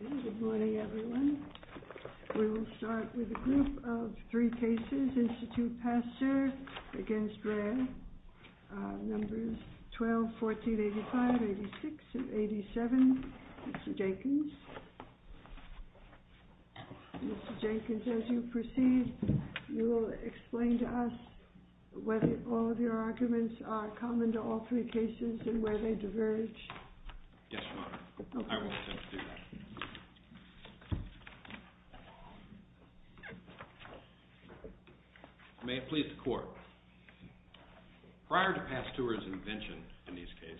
Good morning, everyone. We will start with a group of three cases, INSTITUT PASTEUR against REA. Numbers 12, 14, 85, 86, and 87. Mr. Jenkins, as you proceed, you will explain to us whether all of your arguments are common to all three cases and where they diverge. MR. JENKINS Yes, Your Honor. I will attempt to do that. May it please the Court, prior to Pasteur's invention in these cases,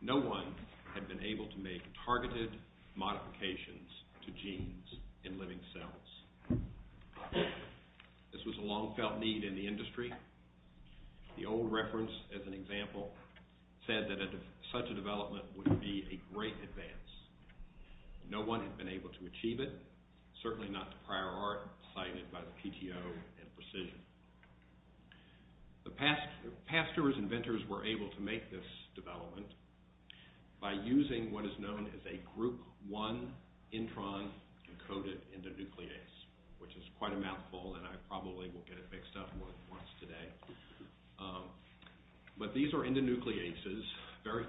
no one had been able to make targeted modifications to genes in living cells. This was a long-felt need in the industry. The old reference, as an example, said that such a development would be a great advance. No one had been able to achieve it, certainly not to prior art cited by the PTO and Precision. Pasteur's inventors were able to make this development by using what is known as a Group I intron-encoded endonuclease, which is quite a mouthful, and I probably will get it mixed up more than once today. But these are endonucleases, a very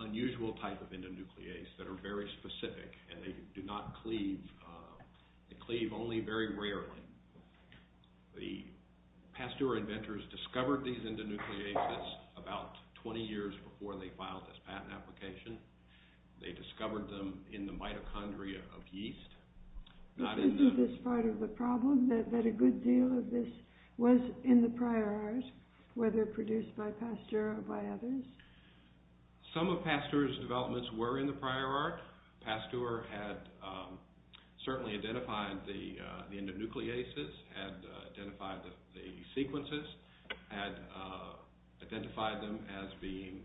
unusual type of endonuclease that are very specific, and they do not cleave. They cleave only very rarely. The Pasteur inventors discovered these endonucleases about 20 years before they filed this patent application. They discovered them in the mitochondria of yeast. Is this part of the problem, that a good deal of this was in the prior art, whether produced by Pasteur or by others? Some of Pasteur's developments were in the prior art. Pasteur had certainly identified the endonucleases, had identified the sequences, had identified them as being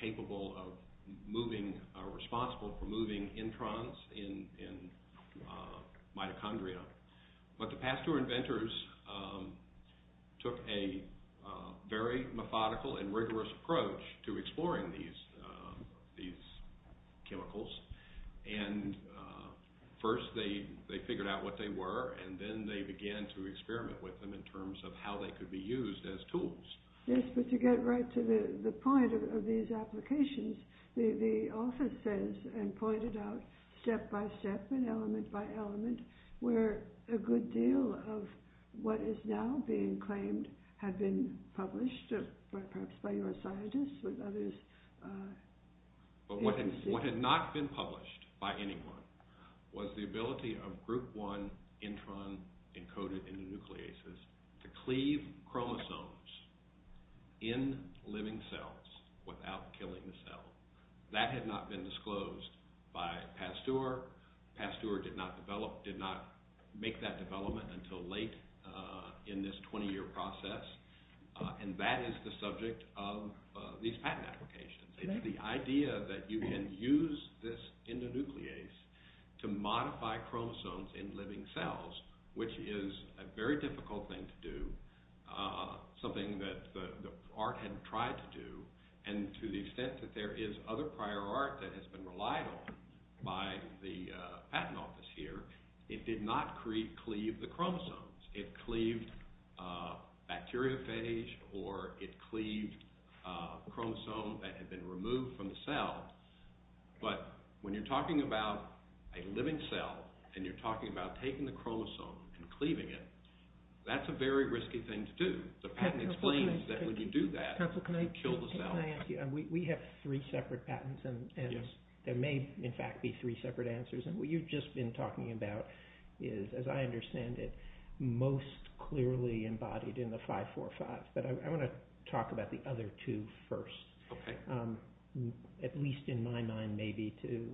capable of moving, responsible for moving introns in mitochondria. But the Pasteur inventors took a very methodical and rigorous approach to exploring these chemicals, and first they figured out what they were, and then they began to experiment with them in terms of how they could be used as tools. Yes, but to get right to the point of these applications, the office says, and pointed out, step by step and element by element, where a good deal of what is now being claimed had been published, perhaps by your scientists or others. But what had not been published by anyone was the ability of group 1 intron encoded endonucleases to cleave chromosomes in living cells without killing the cell. That had not been disclosed by Pasteur. Pasteur did not make that development until late in this 20-year process, and that is the subject of these patent applications. The idea that you can use this endonuclease to modify chromosomes in living cells, which is a very difficult thing to do, something that the art had tried to do, and to the extent that there is other prior art that has been relied on by the patent office here, it did not cleave the chromosomes. It cleaved bacteriophage, or it cleaved chromosomes that had been removed from the cell. But when you're talking about a living cell, and you're talking about taking the chromosome and cleaving it, that's a very risky thing to do. We have three separate patents, and there may, in fact, be three separate answers, and what you've just been talking about is, as I understand it, most clearly embodied in the 545, but I want to talk about the other two first, at least in my mind, maybe, to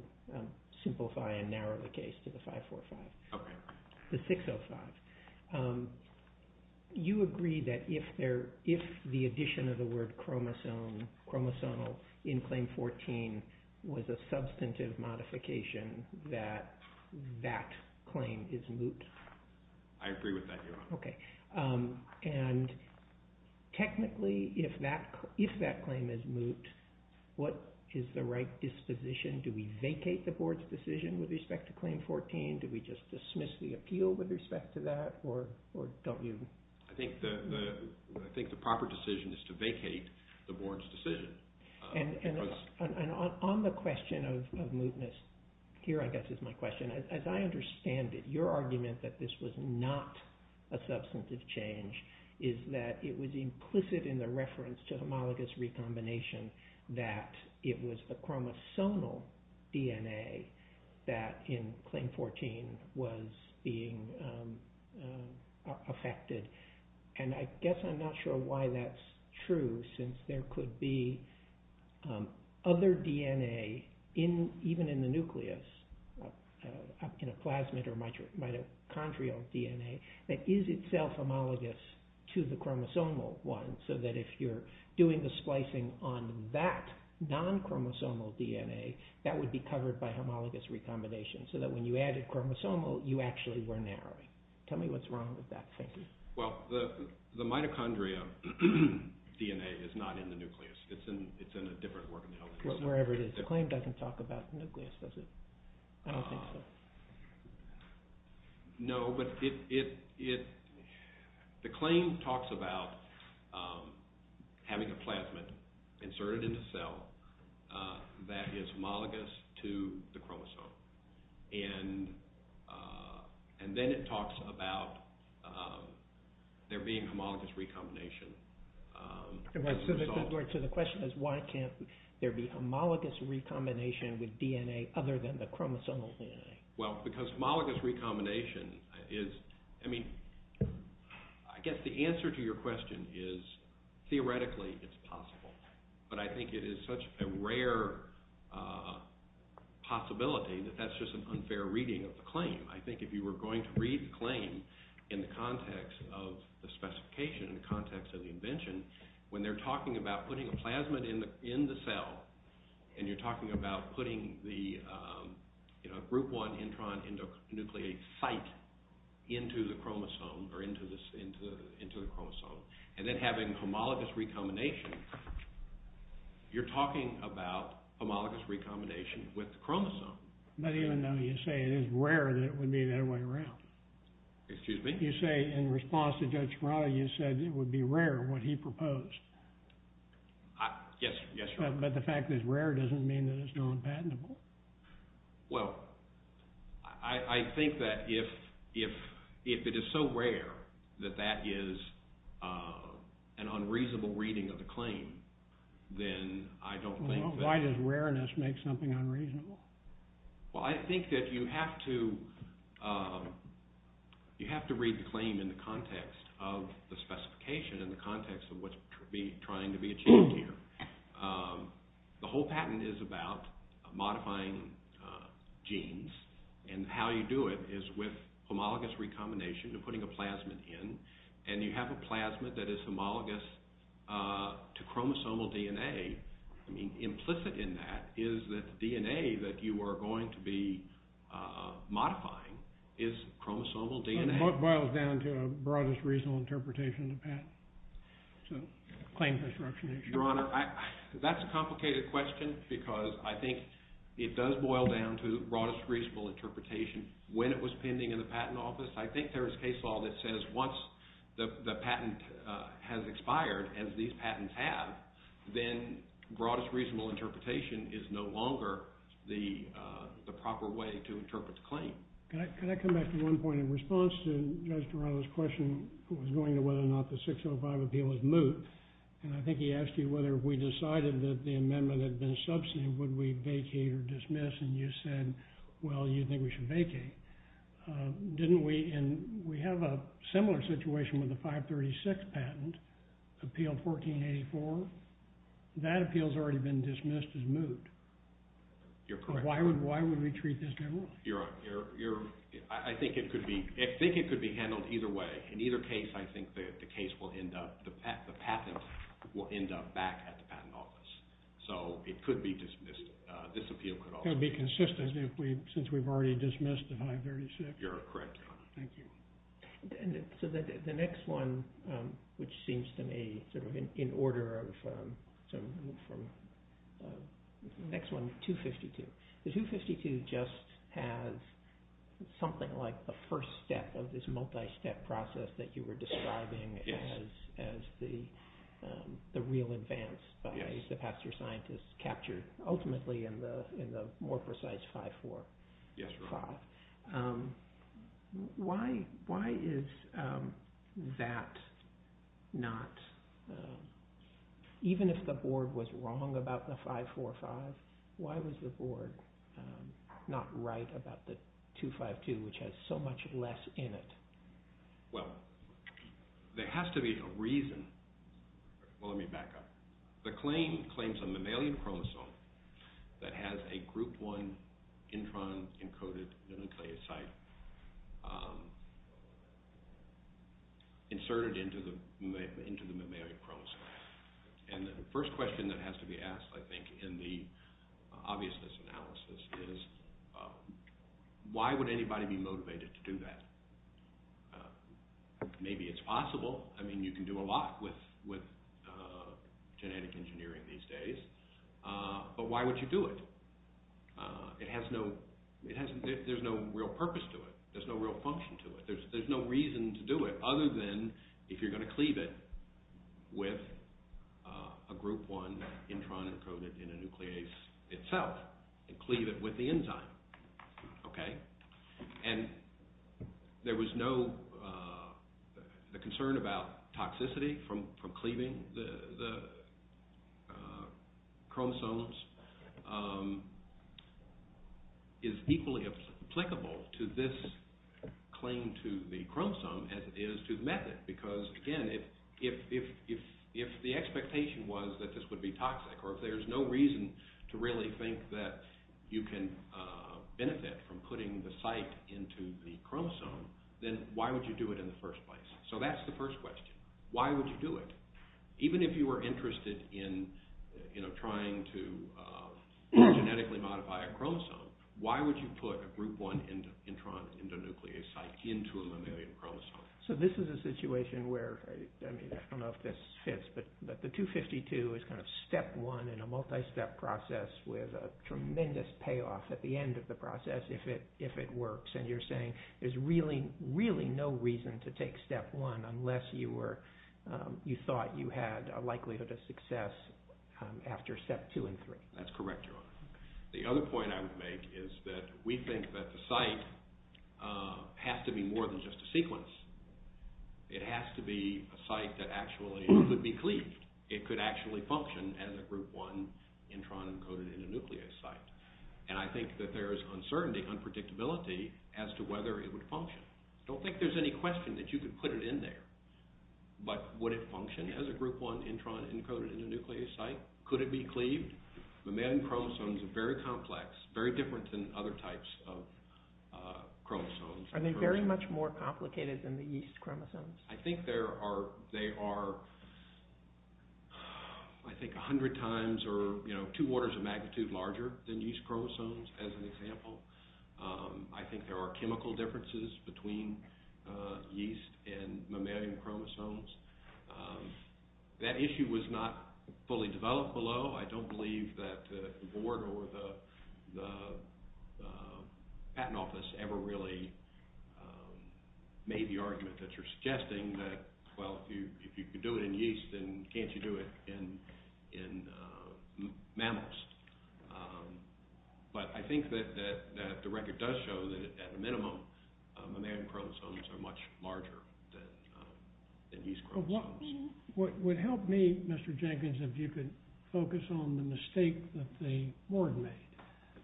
simplify and narrow the case to the 545. The 605. You agree that if the addition of the word chromosome, chromosomal, in Claim 14 was a substantive modification, that that claim is moot? I agree with that, Your Honor. Okay. And technically, if that claim is moot, what is the right disposition? Do we vacate the Board's decision with respect to Claim 14? Do we just dismiss the appeal with respect to that, or don't we? I think the proper decision is to vacate the Board's decision. And on the question of mootness, here, I guess, is my question. As I understand it, your argument that this was not a substantive change is that it was implicit in the reference to homologous recombination that it was a chromosomal DNA that in Claim 14 was being affected. And I guess I'm not sure why that's true, since there could be other DNA, even in the nucleus, in a plasmid or mitochondrial DNA, that is itself homologous to the chromosomal one, so that if you're doing the splicing on that non-chromosomal DNA, that would be covered by homologous recombination, so that when you added chromosomal, you actually were narrowing. Tell me what's wrong with that, thank you. Well, the mitochondria DNA is not in the nucleus. It's in a different organelle. Well, wherever it is. Claim doesn't talk about the nucleus, does it? I don't think so. No, but the claim talks about having a plasmid inserted in the cell that is homologous to the chromosome. And then it talks about there being homologous recombination. So the question is, why can't there be homologous recombination with DNA other than the chromosomal DNA? Well, because homologous recombination is, I mean, I guess the answer to your question is, theoretically, it's possible. But I think it is such a rare possibility that that's just an unfair reading of the claim. I think if you were going to read the claim in the context of the specification, in the context of the invention, when they're talking about putting a plasmid in the cell, and you're talking about putting the group 1 intron nucleate site into the chromosome, or into the chromosome, and then having homologous recombination, you're talking about homologous recombination with the chromosome. But even though you say it is rare, that it would be that way around. Excuse me? You say, in response to Judge Breyer, you said it would be rare, what he proposed. Yes, yes. But the fact that it's rare doesn't mean that it's not patentable. Well, I think that if it is so rare that that is an unreasonable reading of the claim, then I don't think that... Well, I think that you have to read the claim in the context of the specification, in the context of what's trying to be achieved here. The whole patent is about modifying genes, and how you do it is with homologous recombination, you're putting a plasmid in, and you have a plasmid that is homologous to chromosomal DNA. Implicit in that is that the DNA that you are going to be modifying is chromosomal DNA. What boils down to the broadest reasonable interpretation of the patent? Your Honor, that's a complicated question, because I think it does boil down to the broadest reasonable interpretation. When it was pending in the Patent Office, I think there is case law that says once the patent has expired, as these patents have, then broadest reasonable interpretation is no longer the proper way to interpret the claim. Can I come back to one point of response to Judge Barano's question? It was going to whether or not the 605 appeal was moot. I think he asked you whether we decided that the amendment had been subsumed, would we vacate or dismiss, and you said, well, you think we should vacate. Didn't we, and we have a similar situation with the 536 patent, appeal 1484. That appeal has already been dismissed as moot. Why would we treat this as moot? I think it could be handled either way. In either case, I think the patent will end up back at the Patent Office. So it could be dismissed, this appeal could also be dismissed. It would be consistent since we've already dismissed the 536. You're correct, Your Honor. Thank you. So the next one, which seems to me in order from – the next one, 252. The 252 just has something like the first step of this multi-step process that you were describing as the real advance, as the pastoral scientist captured ultimately in the more precise 545. Yes, Your Honor. Why is that not – even if the board was wrong about the 545, why was the board not right about the 252, which has so much less in it? Well, there has to be a reason. Let me back up. The claim claims a mammalian chromosome that has a group 1 intron-encoded nucleoside inserted into the mammalian chromosome. And the first question that has to be asked, I think, in the obviousness analysis is why would anybody be motivated to do that? Maybe it's possible. I mean, you can do a lot with genetic engineering these days. But why would you do it? It has no – there's no real purpose to it. There's no real function to it. There's no reason to do it other than if you're going to cleave it with a group 1 intron-encoded nuclease itself. Cleave it with the enzyme. Okay. And there was no – the concern about toxicity from cleaving the chromosomes is equally applicable to this claim to the chromosome as it is to the method. Because, again, if the expectation was that this would be toxic or if there's no reason to really think that you can benefit from putting the site into the chromosome, then why would you do it in the first place? So that's the first question. Why would you do it? Even if you were interested in trying to genetically modify a chromosome, why would you put a group 1 intron-endonuclease site into a mammalian chromosome? So this is a situation where – I don't know if this fits, but the 252 is kind of step 1 in a multi-step process with a tremendous payoff at the end of the process if it works. And you're saying there's really, really no reason to take step 1 unless you thought you had a likelihood of success after step 2 and 3. That's correct, John. The other point I would make is that we think that the site has to be more than just a sequence. It has to be a site that actually could be cleaved. It could actually function as a group 1 intron-encoded endonuclease site. And I think that there is uncertainty, unpredictability as to whether it would function. I don't think there's any question that you could put it in there. But would it function as a group 1 intron-encoded endonuclease site? Could it be cleaved? Mammalian chromosomes are very complex, very different than other types of chromosomes. Are they very much more complicated than the yeast chromosomes? I think they are, I think, 100 times or two orders of magnitude larger than yeast chromosomes, as an example. I think there are chemical differences between yeast and mammalian chromosomes. That issue was not fully developed below. I don't believe that the board or the patent office ever really made the argument that you're suggesting that, well, if you could do it in yeast, then can't you do it in mammals? But I think that the record does show that, at minimum, mammalian chromosomes are much larger than yeast chromosomes. It would help me, Mr. Jenkins, if you could focus on the mistake that the board made.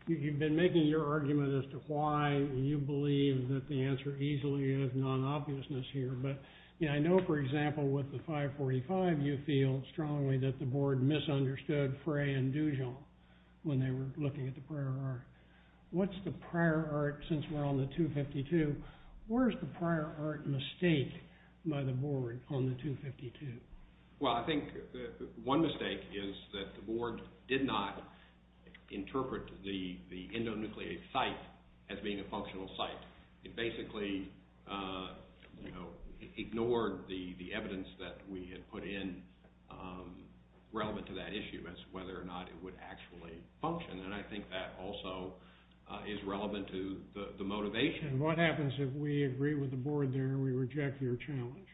You've been making your argument as to why you believe that the answer easily is non-obviousness here. But I know, for example, with the 545, you feel strongly that the board misunderstood Frey and Dujon when they were looking at the prior art. What's the prior art since we're on the 252? Where's the prior art mistake by the board on the 252? Well, I think one mistake is that the board did not interpret the endonuclease site as being a functional site. It basically ignored the evidence that we had put in relevant to that issue as to whether or not it would actually function. And I think that also is relevant to the motivation. And what happens if we agree with the board there and we reject your challenge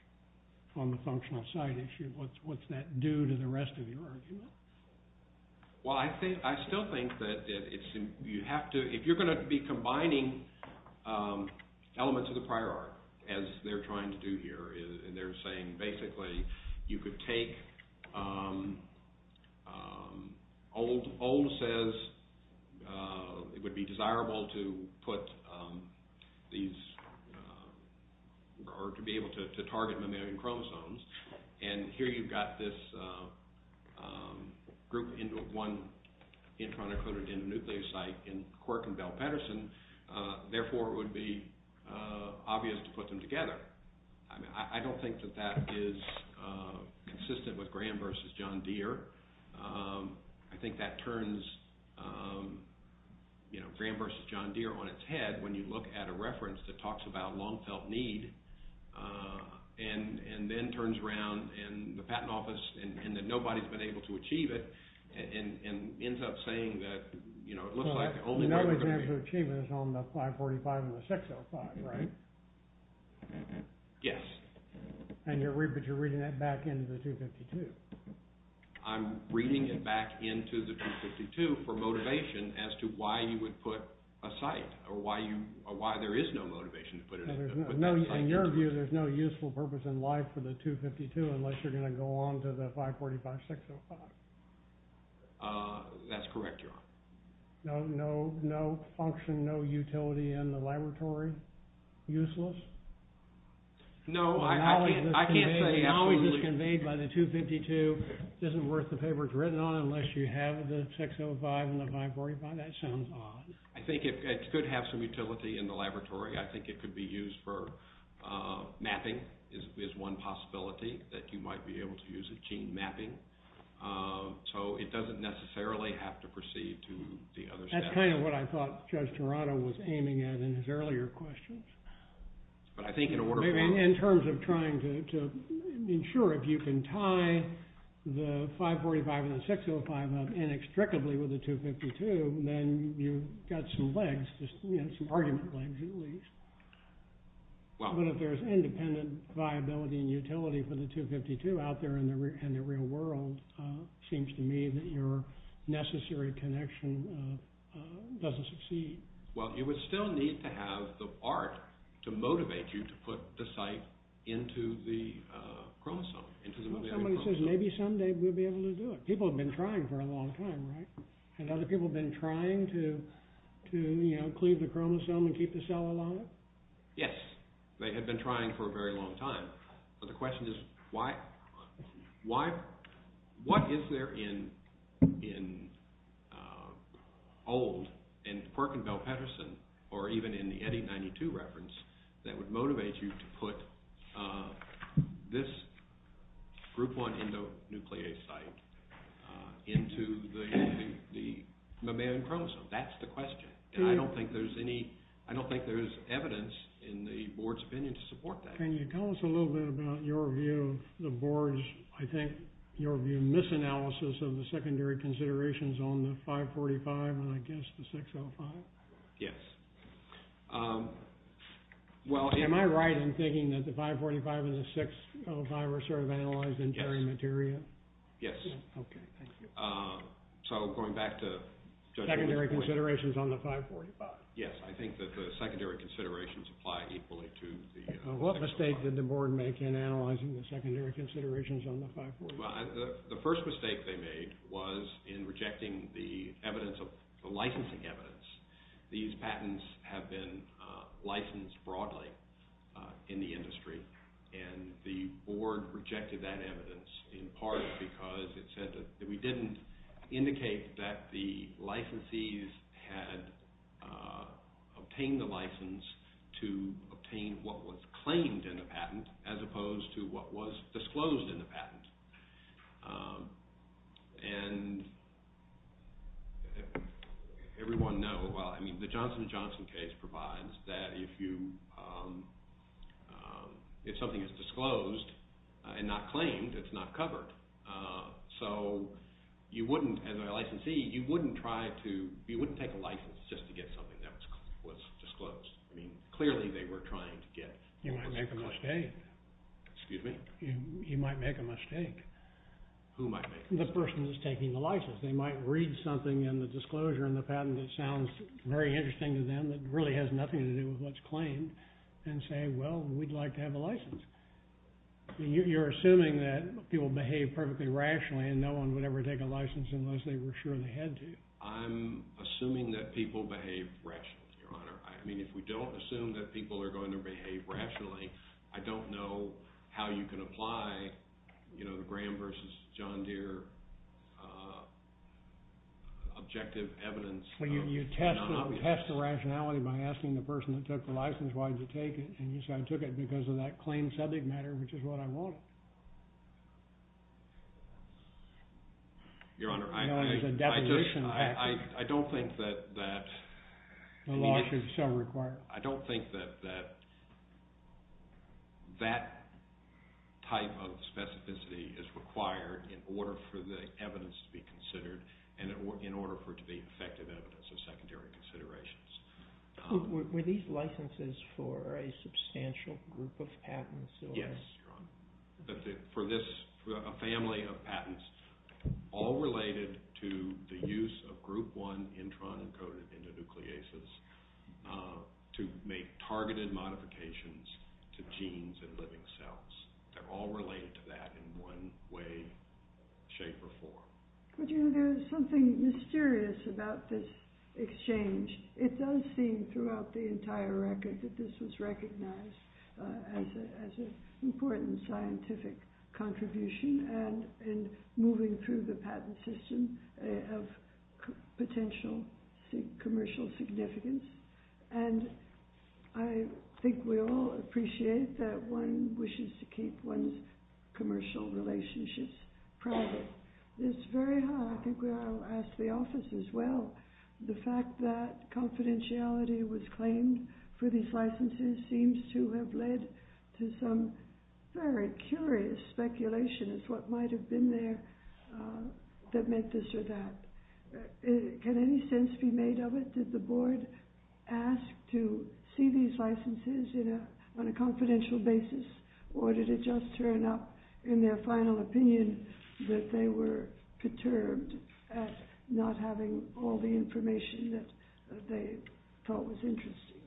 on the functional site issue? What's that do to the rest of your argument? Well, I still think that if you're going to be combining elements of the prior art, as they're trying to do here, and they're saying basically you could take old says it would be desirable to put these or to be able to target mammalian chromosomes, and here you've got this group into one endonuclease site in Cork and Bell-Peterson, therefore it would be obvious to put them together. I don't think that that is consistent with Graham v. John Deere. I think that turns Graham v. John Deere on its head when you look at a reference that talks about long-felt need and then turns around in the patent office and that nobody's been able to achieve it and ends up saying that it looks like only... The only way to achieve it is on the 545 and the 605, right? Yes. And you're reading it back into the 252. I'm reading it back into the 252 for motivation as to why you would put a site or why there is no motivation to put a site. In your view, there's no useful purpose in life for the 252 unless you're going to go along to the 545, 605. That's correct, John. No function, no utility in the laboratory? Useless? No, I can't say absolutely. The knowledge that's conveyed by the 252 isn't worth the paper it's written on unless you have the 605 and the 545. That sounds odd. I think it could have some utility in the laboratory. I think it could be used for mapping is one possibility that you might be able to use a gene mapping. So it doesn't necessarily have to proceed to the other side. That's kind of what I thought Judge Toronto was aiming at in his earlier questions. But I think in order for... In terms of trying to ensure if you can tie the 545 and the 605 inextricably with the 252, then you've got some legs, some argument legs at least. But if there's independent viability and utility for the 252 out there in the real world, it seems to me that your necessary connection doesn't succeed. Well, it would still need to have the part to motivate you to put the site into the chromosome. Maybe someday we'll be able to do it. People have been trying for a long time. And other people have been trying to include the chromosome and keep the cell alive? Yes. They have been trying for a very long time. But the question is, what is there in old, in Perkinville-Petterson, or even in the Eddie-92 reference, that would motivate you to put this Group 1 endonuclease site into the mammalian chromosome? That's the question. And I don't think there's evidence in the board's opinion to support that. Can you tell us a little bit about your view, the board's, I think, your view, misanalysis of the secondary considerations on the 545 and, I guess, the 605? Yes. Am I right in thinking that the 545 and the 605 are sort of analyzed interior material? Yes. Okay, thank you. So, going back to... Secondary considerations on the 545. Yes, I think that the secondary considerations apply equally to the... What mistake did the board make in analyzing the secondary considerations on the 545? The first mistake they made was in rejecting the evidence, the licensing evidence. These patents have been licensed broadly in the industry, and the board rejected that evidence in part because it said that we didn't indicate that the licensees had obtained the license to obtain what was claimed in the patent, as opposed to what was disclosed in the patent. And everyone knows, well, I mean, the Johnson & Johnson case provides that if you, if something is disclosed and not claimed, it's not covered. So, you wouldn't, as a licensee, you wouldn't try to, you wouldn't take a license just to get something that was disclosed. I mean, clearly they were trying to get... You might make a mistake. Excuse me? You might make a mistake. Who might make a mistake? The person who's taking the license. They might read something in the disclosure in the patent that sounds very interesting to them, that really has nothing to do with what's claimed, and say, well, we'd like to have the license. You're assuming that people behave perfectly rationally and no one would ever take a license unless they were sure they had to. I mean, if we don't assume that people are going to behave rationally, I don't know how you can apply, you know, the Graham versus John Deere objective evidence. So, you test the rationality by asking the person who took the license why did they take it. And you say, I took it because of that claimed subject matter, which is what I wanted. Your Honor, I... You know, there's a definition. I don't think that that... The law is required. I don't think that that type of specificity is required in order for the evidence to be considered and in order for it to be effective evidence of secondary considerations. Were these licenses for a substantial group of patents? Yes. For this family of patents, all related to the use of group one intron encoded in the nucleases to make targeted modifications to genes and living cells. They're all related to that in one way, shape, or form. But, you know, there's something mysterious about this exchange. It does seem throughout the entire record that this was recognized as an important scientific contribution and moving through the patent system of potential commercial significance. And I think we all appreciate that one wishes to keep one's commercial relationships private. It's very hard. I think I'll ask the office as well. The fact that confidentiality was claimed for these licenses seems to have led to some very curious speculation as to what might have been there that meant this or that. Can any sense be made of it? Did the board ask to see these licenses on a confidential basis, or did it just turn up in their final opinion that they were concerned at not having all the information that they thought was interesting?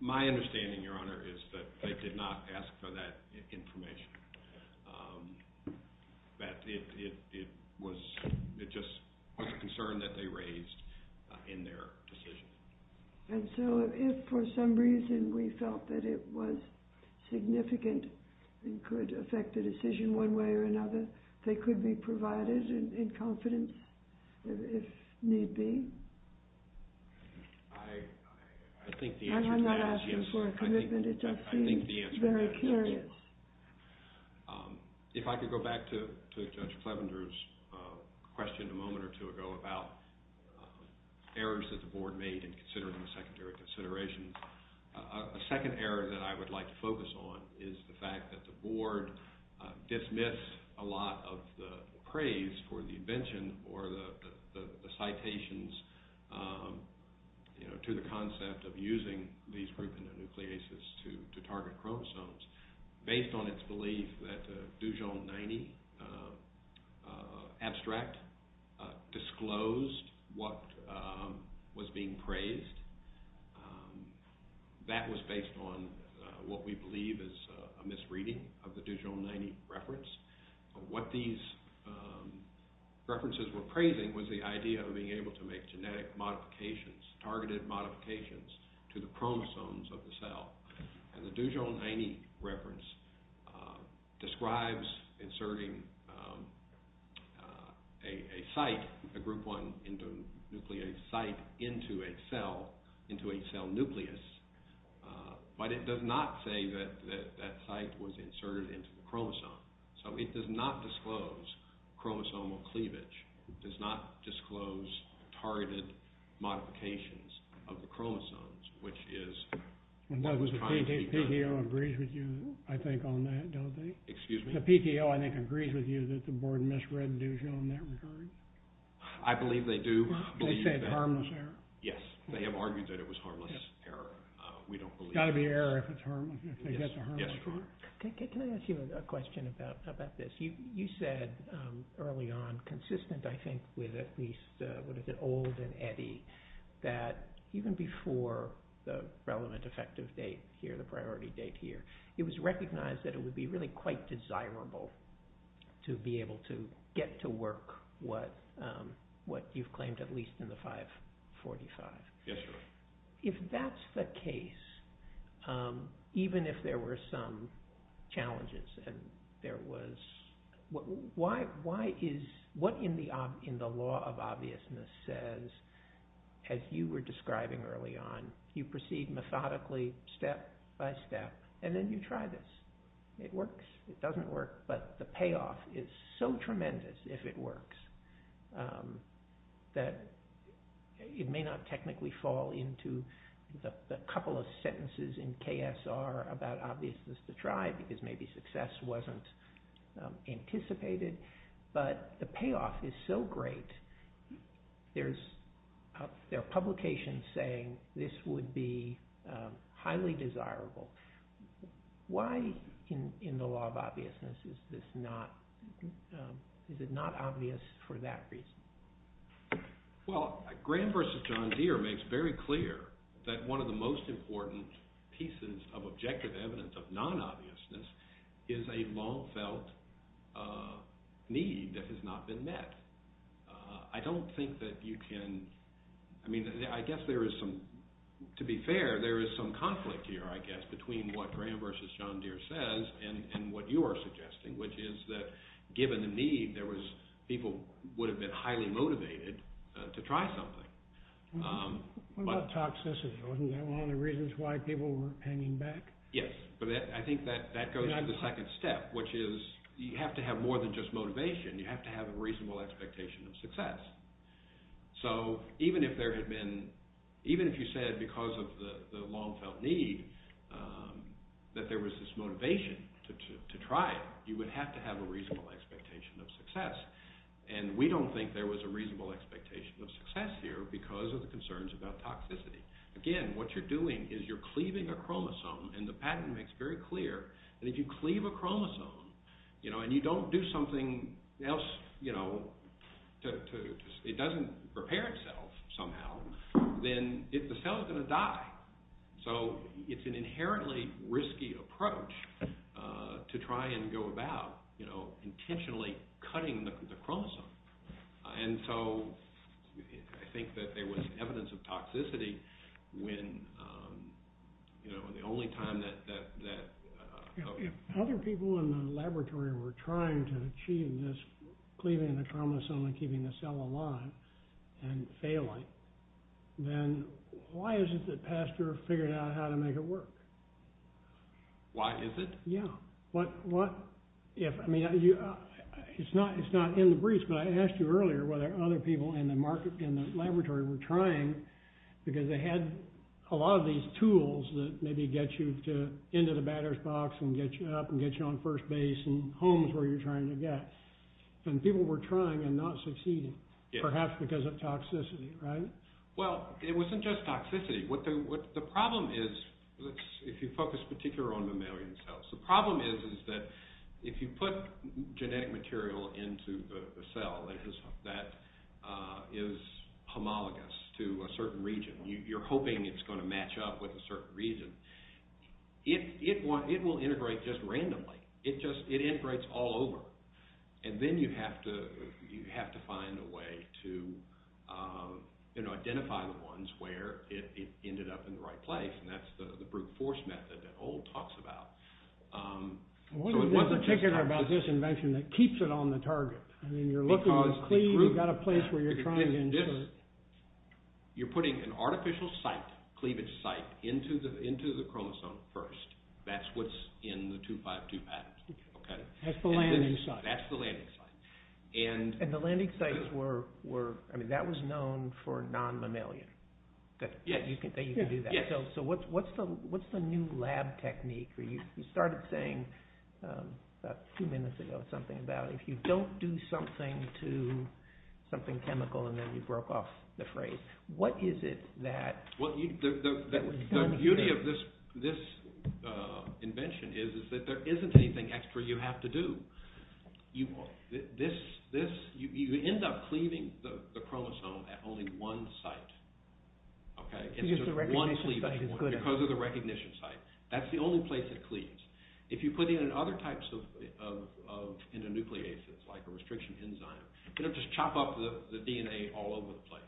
My understanding, Your Honor, is that they did not ask for that information. But it was just a concern that they raised in their decision. And so if for some reason we felt that it was significant and could affect the decision one way or another, they could be provided in confidence if need be? I think the answer to that is yes. I'm not asking for a commitment. I think the answer to that is yes. If I could go back to Judge Fleminger's question a moment or two ago about errors that the board made in considering a secondary consideration. The second error that I would like to focus on is the fact that the board dismissed a lot of the praise for the invention or the citations to the concept of using these groups in the nucleases to target chromosomes. Based on its belief that the Dujon 90 abstract disclosed what was being praised, that was based on what we believe is a misreading of the Dujon 90 reference. What these references were praising was the idea of being able to make genetic modifications, targeted modifications, to the chromosomes of the cell. The Dujon 90 reference describes inserting a group 1 nucleated site into a cell nucleus, but it does not say that that site was inserted into the chromosome. So it does not disclose chromosomal cleavage. It does not disclose targeted modifications of the chromosomes, which is... And the PTO agrees with you, I think, on that, doesn't it? Excuse me? The PTO, I think, agrees with you that the board misread the Dujon 90 reference? I believe they do. They said harmless error? Yes. They have argued that it was harmless error. We don't believe... It's got to be error if it's harmless, if they get the harmless error. Can I ask you a question about this? You said early on, consistent, I think, with at least what is it, Old and Eddy, that even before the relevant effective date here, the priority date here, it was recognized that it would be really quite desirable to be able to get to work what you've claimed at least in the 545. Yes, sir. If that's the case, even if there were some challenges and there was... Why is... What in the law of obviousness says, as you were describing early on, you proceed methodically, step by step, and then you try this. It works. It doesn't work. But the payoff is so tremendous, if it works, that it may not technically fall into the couple of sentences in KSR about obviousness to try, because maybe success wasn't anticipated. But the payoff is so great, there are publications saying this would be highly desirable. Why in the law of obviousness is this not... Is it not obvious for that reason? Well, Graham versus John Deere makes very clear that one of the most important pieces of objective evidence of non-obviousness is a long-felt need that has not been met. I don't think that you can... I mean, I guess there is some... To be fair, there is some conflict here, I guess, between what Graham versus John Deere says and what you are suggesting, which is that given the need, there was... People would have been highly motivated to try something. What about toxicity? Wasn't that one of the reasons why people weren't hanging back? Yes. I think that goes on to the second step, which is you have to have more than just motivation. You have to have a reasonable expectation of success. So even if there had been... Even if you said, because of the long-felt need, that there was this motivation to try it, you would have to have a reasonable expectation of success. And we don't think there was a reasonable expectation of success here because of the concerns about toxicity. Again, what you're doing is you're cleaving a chromosome. And the patent makes it very clear that if you cleave a chromosome and you don't do something else to... It doesn't repair itself somehow, then the cells are going to die. So it's an inherently risky approach to try and go about intentionally cutting the chromosome. And so I think that there was evidence of toxicity when the only time that... Other people in the laboratory were trying to achieve this cleaving the chromosome and keeping the cell alive and failing. Then why is it that Pasteur figured out how to make it work? Why is it? Yeah. I mean, it's not in the briefs, but I asked you earlier whether other people in the laboratory were trying, because they had a lot of these tools that maybe get you into the battered box and get you up and get you on first base and homes where you're trying to get. And people were trying and not succeeding, perhaps because of toxicity, right? Well, it wasn't just toxicity. The problem is, if you focus particularly on mammalian cells, the problem is that if you put genetic material into the cell that is homologous to a certain region, you're hoping it's going to match up with a certain region, it will integrate just randomly. It integrates all over. And then you have to find a way to identify the ones where it ended up in the right place, and that's the brute force method that Old talks about. What is particular about this invention that keeps it on the target? I mean, you're looking at cleaving out a place where you're trying to... You're putting an artificial site, cleavage site, into the chromosome first. That's what's in the 252 pattern. That's the landing site. That's the landing site. And the landing sites were... I mean, that was known for non-mammalian. Yeah. You can do that. So what's the new lab technique? You started saying about two minutes ago something about if you don't do something to something chemical and then you broke off the phrase. What is it that... The beauty of this invention is that there isn't anything extra you have to do. You end up cleaving the chromosome at only one site. It's just one cleaving because of the recognition site. That's the only place it cleaves. If you put it in other types of endonucleases, like a restriction enzyme, it'll just chop off the DNA all over the place.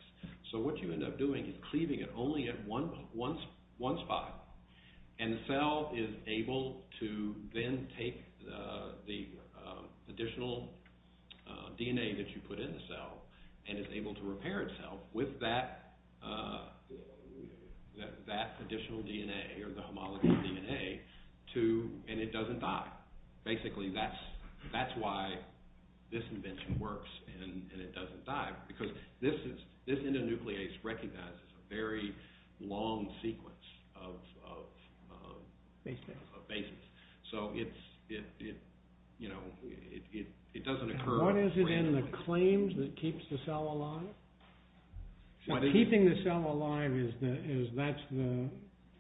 So what you end up doing is cleaving it only at one spot. And the cell is able to then take the additional DNA that you put in the cell and is able to repair itself with that additional DNA or the homologous DNA. And it doesn't die. Basically, that's why this invention works and it doesn't die. Because this endonuclease recognizes a very long sequence of bases. So it doesn't occur... What is it in the claims that keeps the cell alive? Keeping the cell alive, that's the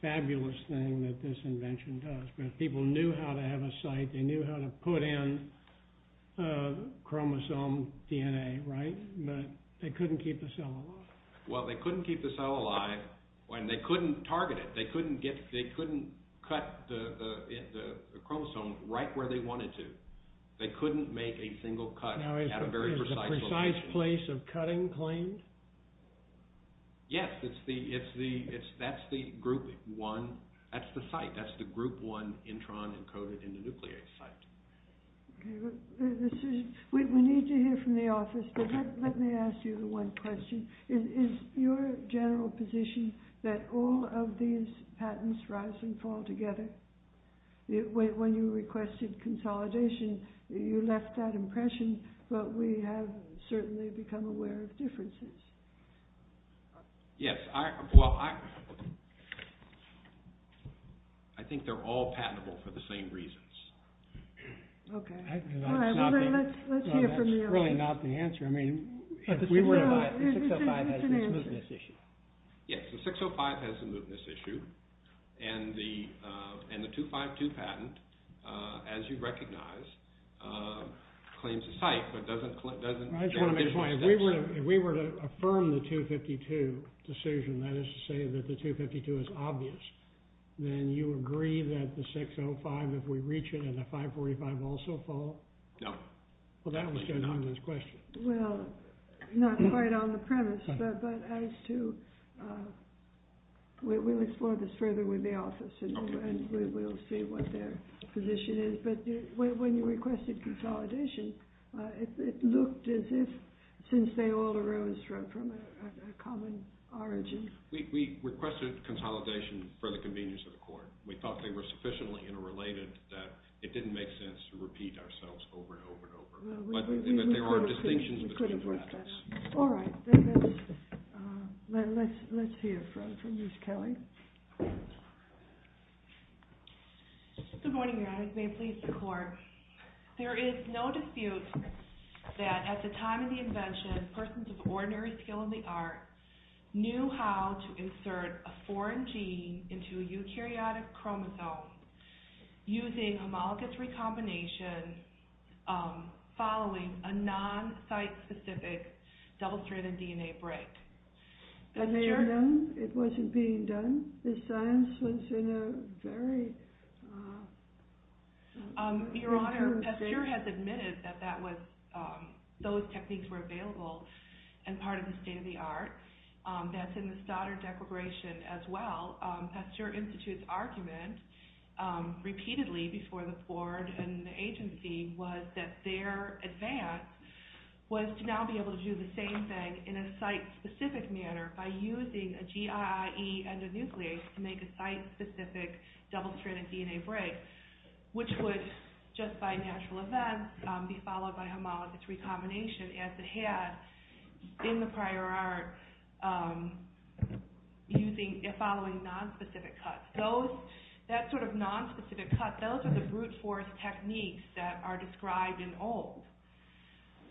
fabulous thing that this invention does. People knew how to have a site. They knew how to put in chromosome DNA, right? But they couldn't keep the cell alive. Well, they couldn't keep the cell alive. And they couldn't target it. They couldn't cut the chromosome right where they wanted to. They couldn't make a single cut at a very precise location. Now, is the precise place of cutting claimed? Yes, that's the group one... That's the site. That's the group one intron encoded in the nuclease site. We need to hear from the office, but let me ask you one question. Is your general position that all of these patents rise and fall together? When you requested consolidation, you left that impression, but we have certainly become aware of differences. Yes. Well, I think they're all patentable for the same reasons. Okay. Let's hear from you. That's really not the answer. I mean, 605 has a movement issue. Yes, 605 has a movement issue, and the 252 patent, as you recognize, claims a site but doesn't... If we were to affirm the 252 decision, that is to say that the 252 is obvious, then you agree that the 605, if we reach it, and the 545 also fall? No. Well, that was Ken Honda's question. Well, not quite on the premise, but I have to... We'll explore this further with the office, and we'll see what their position is. But when you requested consolidation, it looked as if since they all arose from a common origin. We requested consolidation for the convenience of court. We thought they were sufficiently interrelated that it didn't make sense to repeat ourselves over and over and over. But there were distinctions between the methods. All right. Let's hear from Ms. Kelly. Good morning. May it please the Court. There is no dispute that at the time of the invention, persons of ordinary skill in the art knew how to insert a foreign gene into a eukaryotic chromosome using homologous recombination following a non-site-specific double-stranded DNA break. And then it wasn't being done? The science was in a very... Your Honor, Pasteur has admitted that those techniques were available and part of the state of the art. That's in the Stoddard Declaration as well. Pasteur Institute's argument repeatedly before the board and the agency was that their advance was to now be able to do the same thing in a site-specific manner by using a GIIE endonuclease to make a site-specific double-stranded DNA break, which would just by natural events be followed by homologous recombination as it had in the prior art following non-specific cuts. That sort of non-specific cut, those are the brute force techniques that are described in old,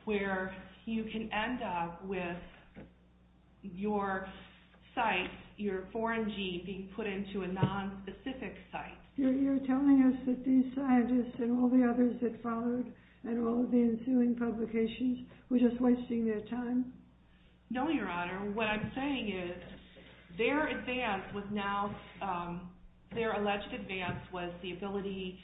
where you can end up with your site, your foreign gene being put into a non-specific site. You're telling us that these scientists and all the others that followed and all of the ensuing publications were just wasting their time? No, Your Honor. What I'm saying is their advance was now... Their alleged advance was the ability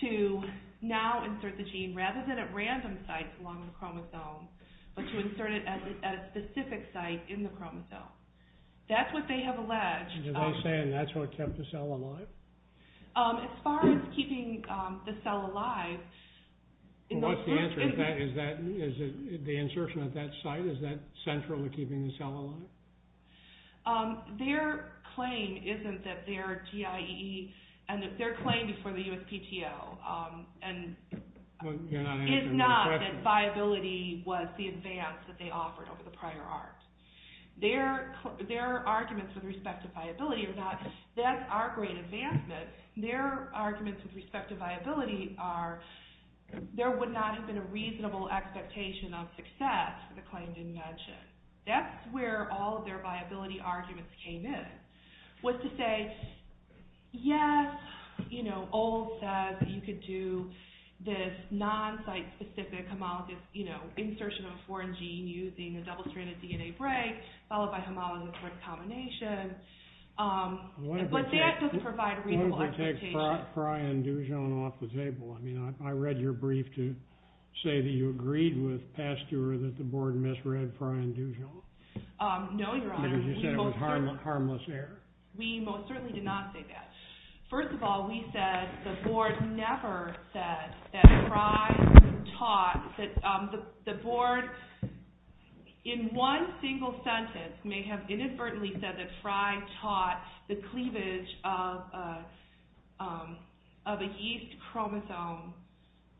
to now insert the gene rather than at random sites along the chromosome, but to insert it at a specific site in the chromosome. That's what they have alleged. You're saying that's what kept the cell alive? As far as keeping the cell alive... What's the answer to that? The insertion at that site, is that central to keeping the cell alive? Their claim isn't that their TIE and their claim for the USPTO is not that viability was the advance that they offered over the prior art. Their arguments with respect to viability are not, that's our great advancement. Their arguments with respect to viability are there would not have been a reasonable expectation of success if the claim didn't mention. That's where all of their viability arguments came in, was to say, yes, you know, Old says you could do this non-site-specific homologous, you know, insertion of a foreign gene using a double-stranded DNA break followed by homologous recombination. But that doesn't provide a reasonable expectation. I'm going to take Brian Dujan off the table. I read your brief to say that you agreed with Pasteur that the board misread Brian Dujan. No, Your Honor. Because you said it was harmless error. We most certainly did not say that. First of all, we said, the board never said that Fry taught... The board in one single sentence may have inadvertently said that Fry taught the cleavage of a yeast chromosome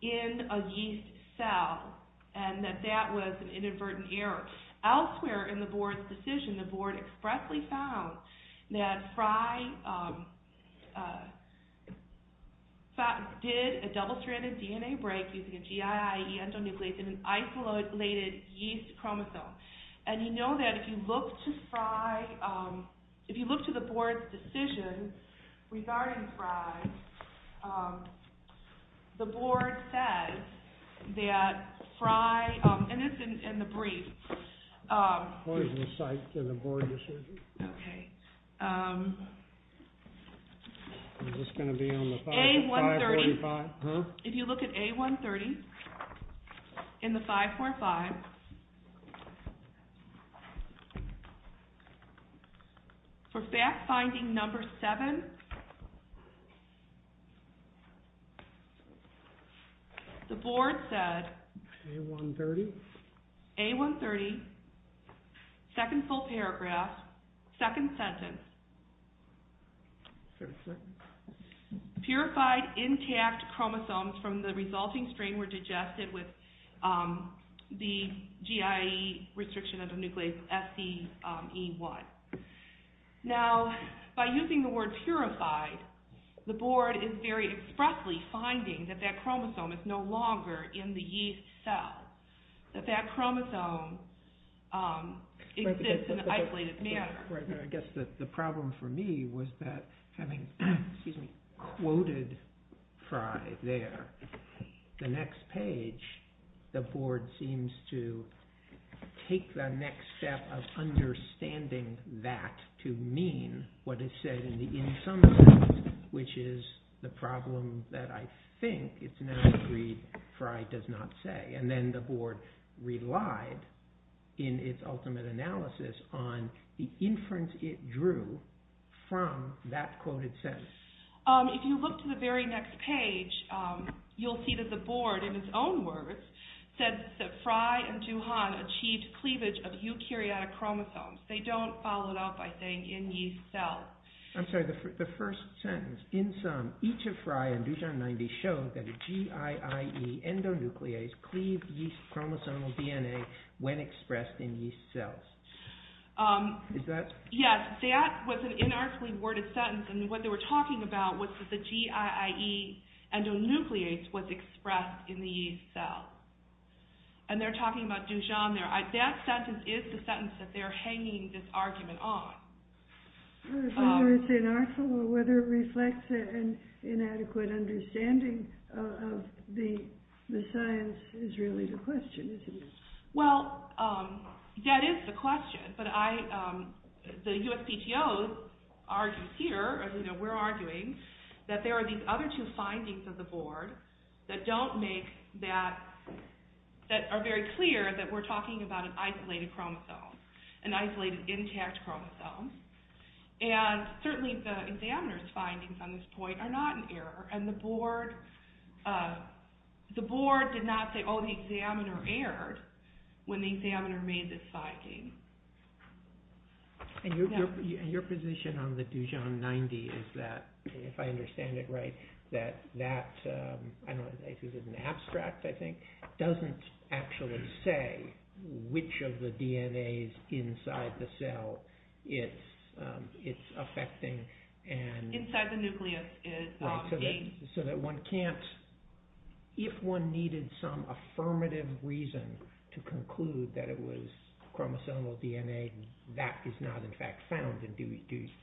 in a yeast cell and that that was an inadvertent error. Elsewhere in the board's decision, the board expressly found that Fry did a double-stranded DNA break using a GIID endonuclease in an isolated yeast chromosome. And you know that if you look to Fry... If you look to the board's decision regarding Fry, the board said that Fry... And it's in the brief. What is the site in the board decision? Okay. Is this going to be on the 5.5? A130. Huh? If you look at A130 in the 5.5, for fact-finding number seven, the board said... A130. A130, second full paragraph, second sentence, purified intact chromosomes from the resulting strain were digested with the GIID restriction of the nuclease SE1. Now, by using the word purified, the board is very expressly finding that that chromosome is no longer in the yeast cell, that that chromosome exists in an isolated manner. I guess the problem for me was that having quoted Fry there, the next page, the board seems to take the next step of understanding that to mean what is said in the insummative, which is the problem that I think it's 93 Fry does not say. And then the board relied in its ultimate analysis on the inference it drew from that quoted sentence. If you look to the very next page, you'll see that the board, in its own words, said that Fry and Duhon achieved cleavage of eukaryotic chromosomes. They don't follow it up by saying in yeast cells. I'm sorry, the first sentence, insum, each of Fry and Duhon 90 showed that a GIID endonuclease cleaved yeast chromosomal DNA when expressed in yeast cells. Is that? Yes, that was an inarticulate worded sentence. And what they were talking about was that the GIID endonuclease was expressed in the yeast cell. And they're talking about Duhon there. That sentence is the sentence that they're hanging this argument on. Whether it's inarticulate or whether it reflects an inadequate understanding of the science is really the question, isn't it? Well, that is the question. But the USPTOs argue here, as you know, we're arguing, that there are these other two findings of the board that don't make that, that are very clear that we're talking about an isolated chromosome, an isolated intact chromosome. And certainly the examiner's findings on this point are not an error. And the board did not say, oh, the examiner erred when the examiner made this finding. And your position on the Duhon 90 is that, if I understand it right, that that, I don't know if it's an abstract, I think, doesn't actually say which of the DNAs inside the cell it's affecting. Inside the nucleus is the gene. So that one can't, if one needed some affirmative reason to conclude that it was chromosomal DNA, that is not in fact found in Duhon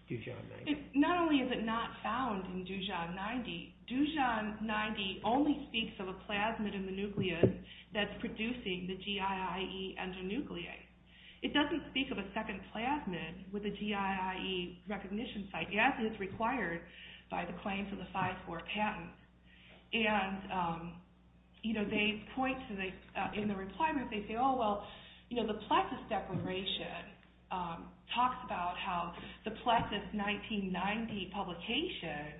90. Not only is it not found in Duhon 90, Duhon 90 only speaks of a plasmid in the nucleus that's producing the GIIE endonuclease. It doesn't speak of a second plasmid with a GIIE recognition site. Yes, it's required by the claims of the 5-4 patent. And, you know, they point to the, in the requirement, they say, oh, well, you know, the Pleistos separation talks about how the Pleistos 1990 publication,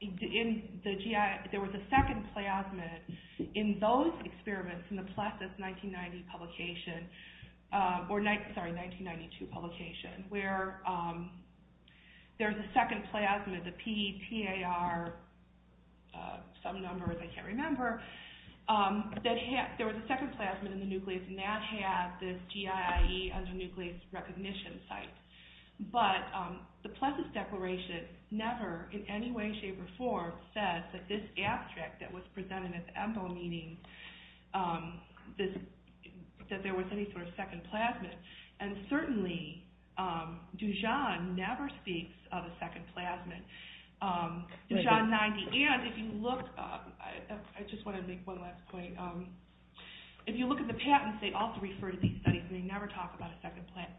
in the GI, there was a second plasmid in those experiments, in the Pleistos 1990 publication, or, sorry, 1992 publication, where there's a second plasmid, the PTAR, some number, I can't remember, that had, there was a second plasmid in the nucleus and that had this GIIE endonuclease recognition site. But the Pleistos declaration never, in any way, shape, or form, says that this abstract that was presented at the MDO meeting, that there was any sort of second plasmid. And certainly, Duhon never speaks of a second plasmid. Duhon 90, and if you look, I just want to make one last point, if you look at the patents, they also refer to these studies but they never talk about a second plasmid.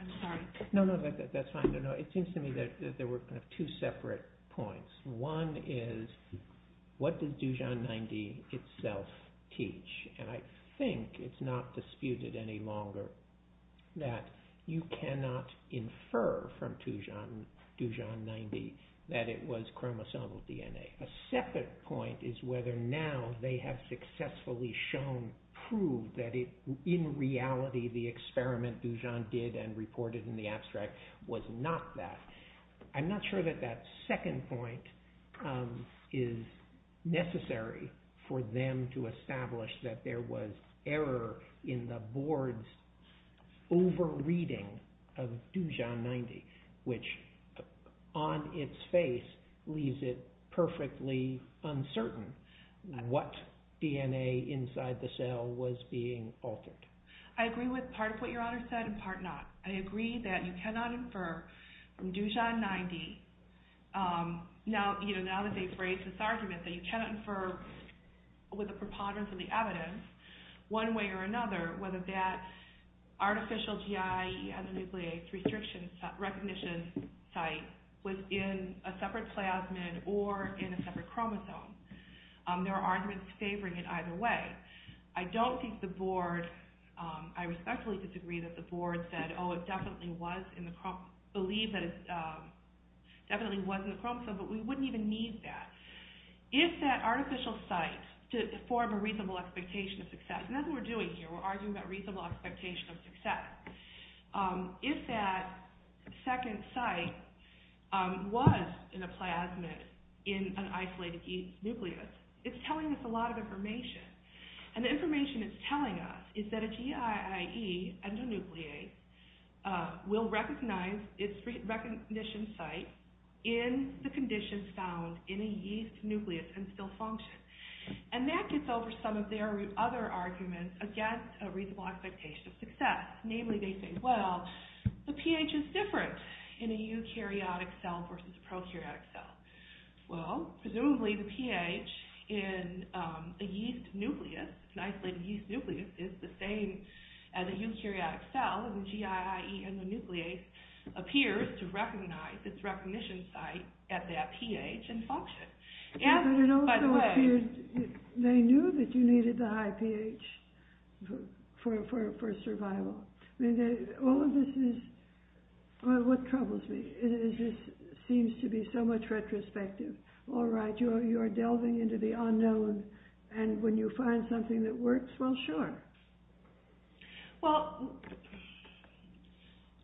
I'm sorry. No, no, that's fine. It seems to me that there were two separate points. One is, what did Duhon 90 itself teach? And I think it's not disputed any longer that you cannot infer from Duhon 90 that it was chromosomal DNA. A second point is whether now they have successfully shown, proved that in reality the experiment Duhon did and reported in the abstract was not that. I'm not sure that that second point is necessary for them to establish that there was error in the board's over-reading of Duhon 90, which on its face leaves it perfectly uncertain what DNA inside the cell was being altered. I agree with part of what your Honor said and part not. I agree that you cannot infer from Duhon 90, now that they've raised this argument, that you cannot infer with the preponderance of the evidence, one way or another, whether that artificial GI endonuclease recognition site was in a separate plasmid or in a separate chromosome. There are arguments favoring it either way. I respectfully disagree that the board said, oh, it definitely was in the chromosome, but we wouldn't even need that. Is that artificial site to form a reasonable expectation of success? Nothing we're doing here. We're arguing that reasonable expectation of success. If that second site was in a plasmid in an isolated yeast nucleus, it's telling us a lot of information. And the information it's telling us is that a GI NIE endonuclease will recognize its recognition site in the condition found in a yeast nucleus and still function. And that gets over some of their other arguments against a reasonable expectation of success. Namely, they say, well, the pH is different in a eukaryotic cell versus a prokaryotic cell. Well, presumably the pH in a yeast nucleus, an isolated yeast nucleus, is the same as a eukaryotic cell, and the GI IE endonuclease appears to recognize its recognition site at that pH and function. They knew that you needed the high pH for survival. All of this is what troubles me. It just seems to be so much retrospective. All right, you're delving into the unknown, and when you find something that works, well, sure. Well,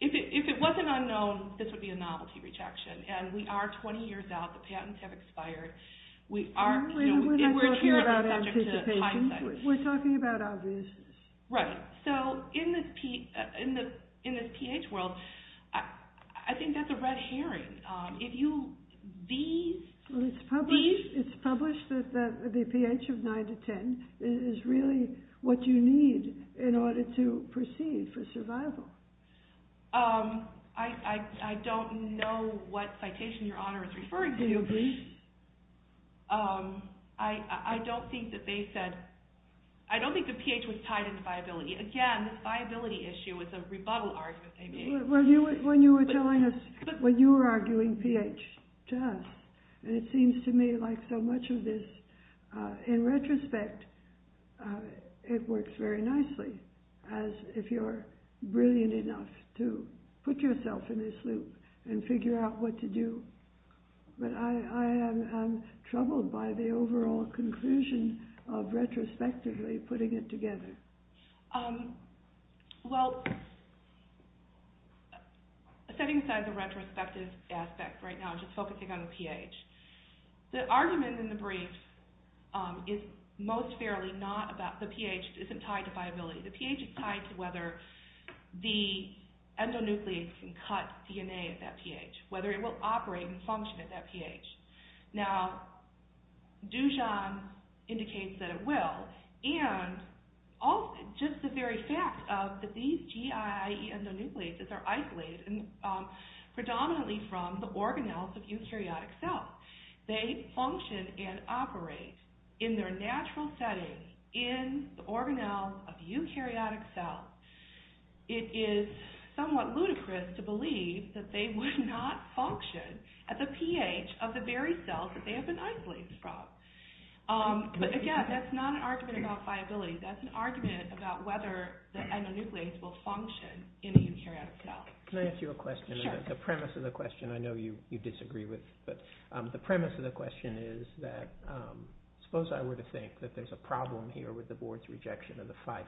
if it wasn't unknown, this would be a novelty rejection. And we are 20 years out. The patents have expired. We're not talking about anticipation. We're talking about obviousness. Right. So in this pH world, I think that's a red herring. It's published that the pH of 9 to 10 is really what you need in order to proceed for survival. I don't know what citation Your Honor is referring to. I don't think the pH was tied into viability. Again, the viability issue was a rebuttal argument they made. When you were arguing pH to us, it seems to me like so much of this, in retrospect, it works very nicely if you're brilliant enough to put yourself in this loop and figure out what to do. But I'm troubled by the overall conclusion of retrospectively putting it together. Well, setting aside the retrospective aspect right now and just focusing on the pH, the argument in the brief is most fairly not about the pH isn't tied to viability. The pH is tied to whether the endonucleic can cut DNA at that pH, whether it will operate and function at that pH. Now, Dujan indicates that it will. And just the very fact that these GI endonucleases are isolated predominantly from the organelles of eukaryotic cells, they function and operate in their natural settings in the organelles of eukaryotic cells, it is somewhat ludicrous to believe that they would not function at the pH of the very cells that they have been isolated from. But again, that's not an argument about viability. That's an argument about whether the endonuclease will function in the eukaryotic cell. Can I ask you a question? Sure. The premise of the question I know you disagree with, but the premise of the question is that suppose I were to think that there's a problem here with the board's rejection of the 5-4-5,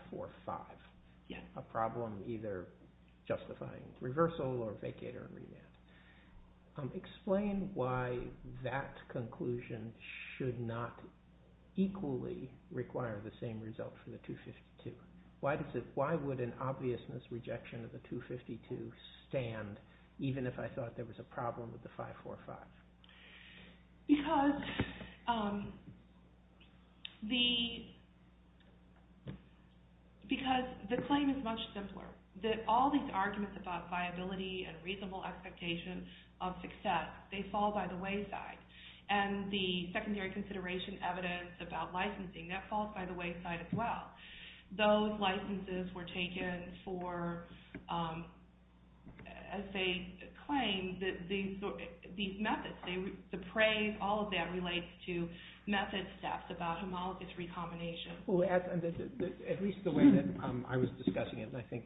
a problem either justifying reversal or vacate or remand. Explain why that conclusion should not equally require the same result from the 2-52. Why would an obvious misrejection of the 2-52 stand, even if I thought there was a problem with the 5-4-5? Because the claim is much different. All these arguments about viability and reasonable expectation of success, they fall by the wayside. And the secondary consideration evidence about licensing, that falls by the wayside as well. Those licenses were taken for, as they claim, these methods. The praise, all of that, relates to method steps about homologous recombination. At least the way that I was discussing it, and I think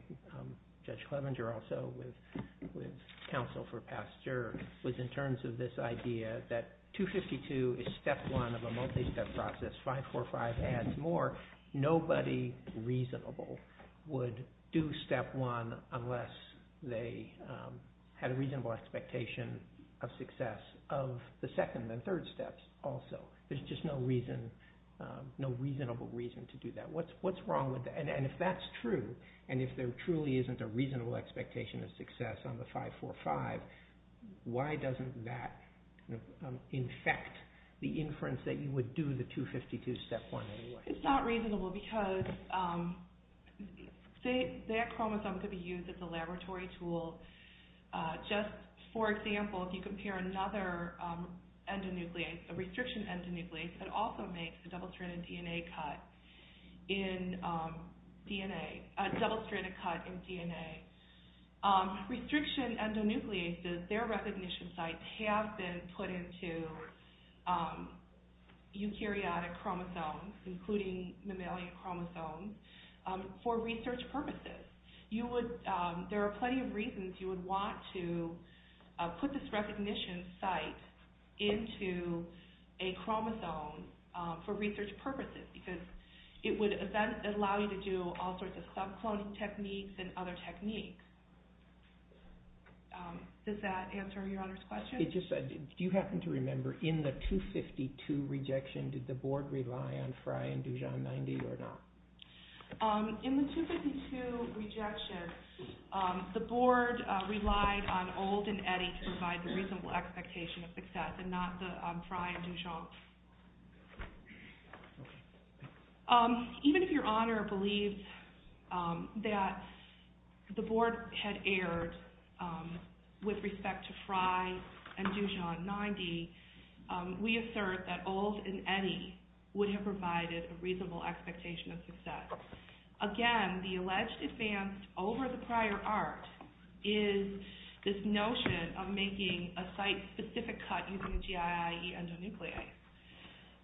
Judge Clevenger also with counsel for Pastor, was in terms of this idea that 2-52 is step one of a multi-step process, 5-4-5 and more, nobody reasonable would do step one unless they had a reasonable expectation of success of the second and third steps also. There's just no reason, no reasonable reason to do that. What's wrong with that? And if that's true, and if there truly isn't a reasonable expectation of success on the 5-4-5, why doesn't that, in fact, the inference that you would do the 2-52 step one anyway? It's not reasonable because that chromosome could be used as a laboratory tool. Just, for example, if you compare another endonuclease, a restriction endonuclease that also makes a double-stranded DNA cut in DNA, a double-stranded cut in DNA. Restriction endonucleases, their recognition sites have been put into eukaryotic chromosomes, including mammalian chromosomes, for research purposes. There are plenty of reasons you would want to put this recognition site into a chromosome for research purposes because it would allow you to do all sorts of subclone techniques and other techniques. Does that answer your other question? It just said, do you happen to remember in the 2-52 rejection, did the board rely on Frye and Dujon 90 or not? In the 2-52 rejection, the board relied on Old and Eddy to provide the reasonable expectation of success and not Frye and Dujon. Even if your honor believes that the board had erred with respect to Frye and Dujon 90, we assert that Old and Eddy would have provided a reasonable expectation of success. Again, the alleged advance over the prior art is this notion of making a site-specific cut using GII endonuclease.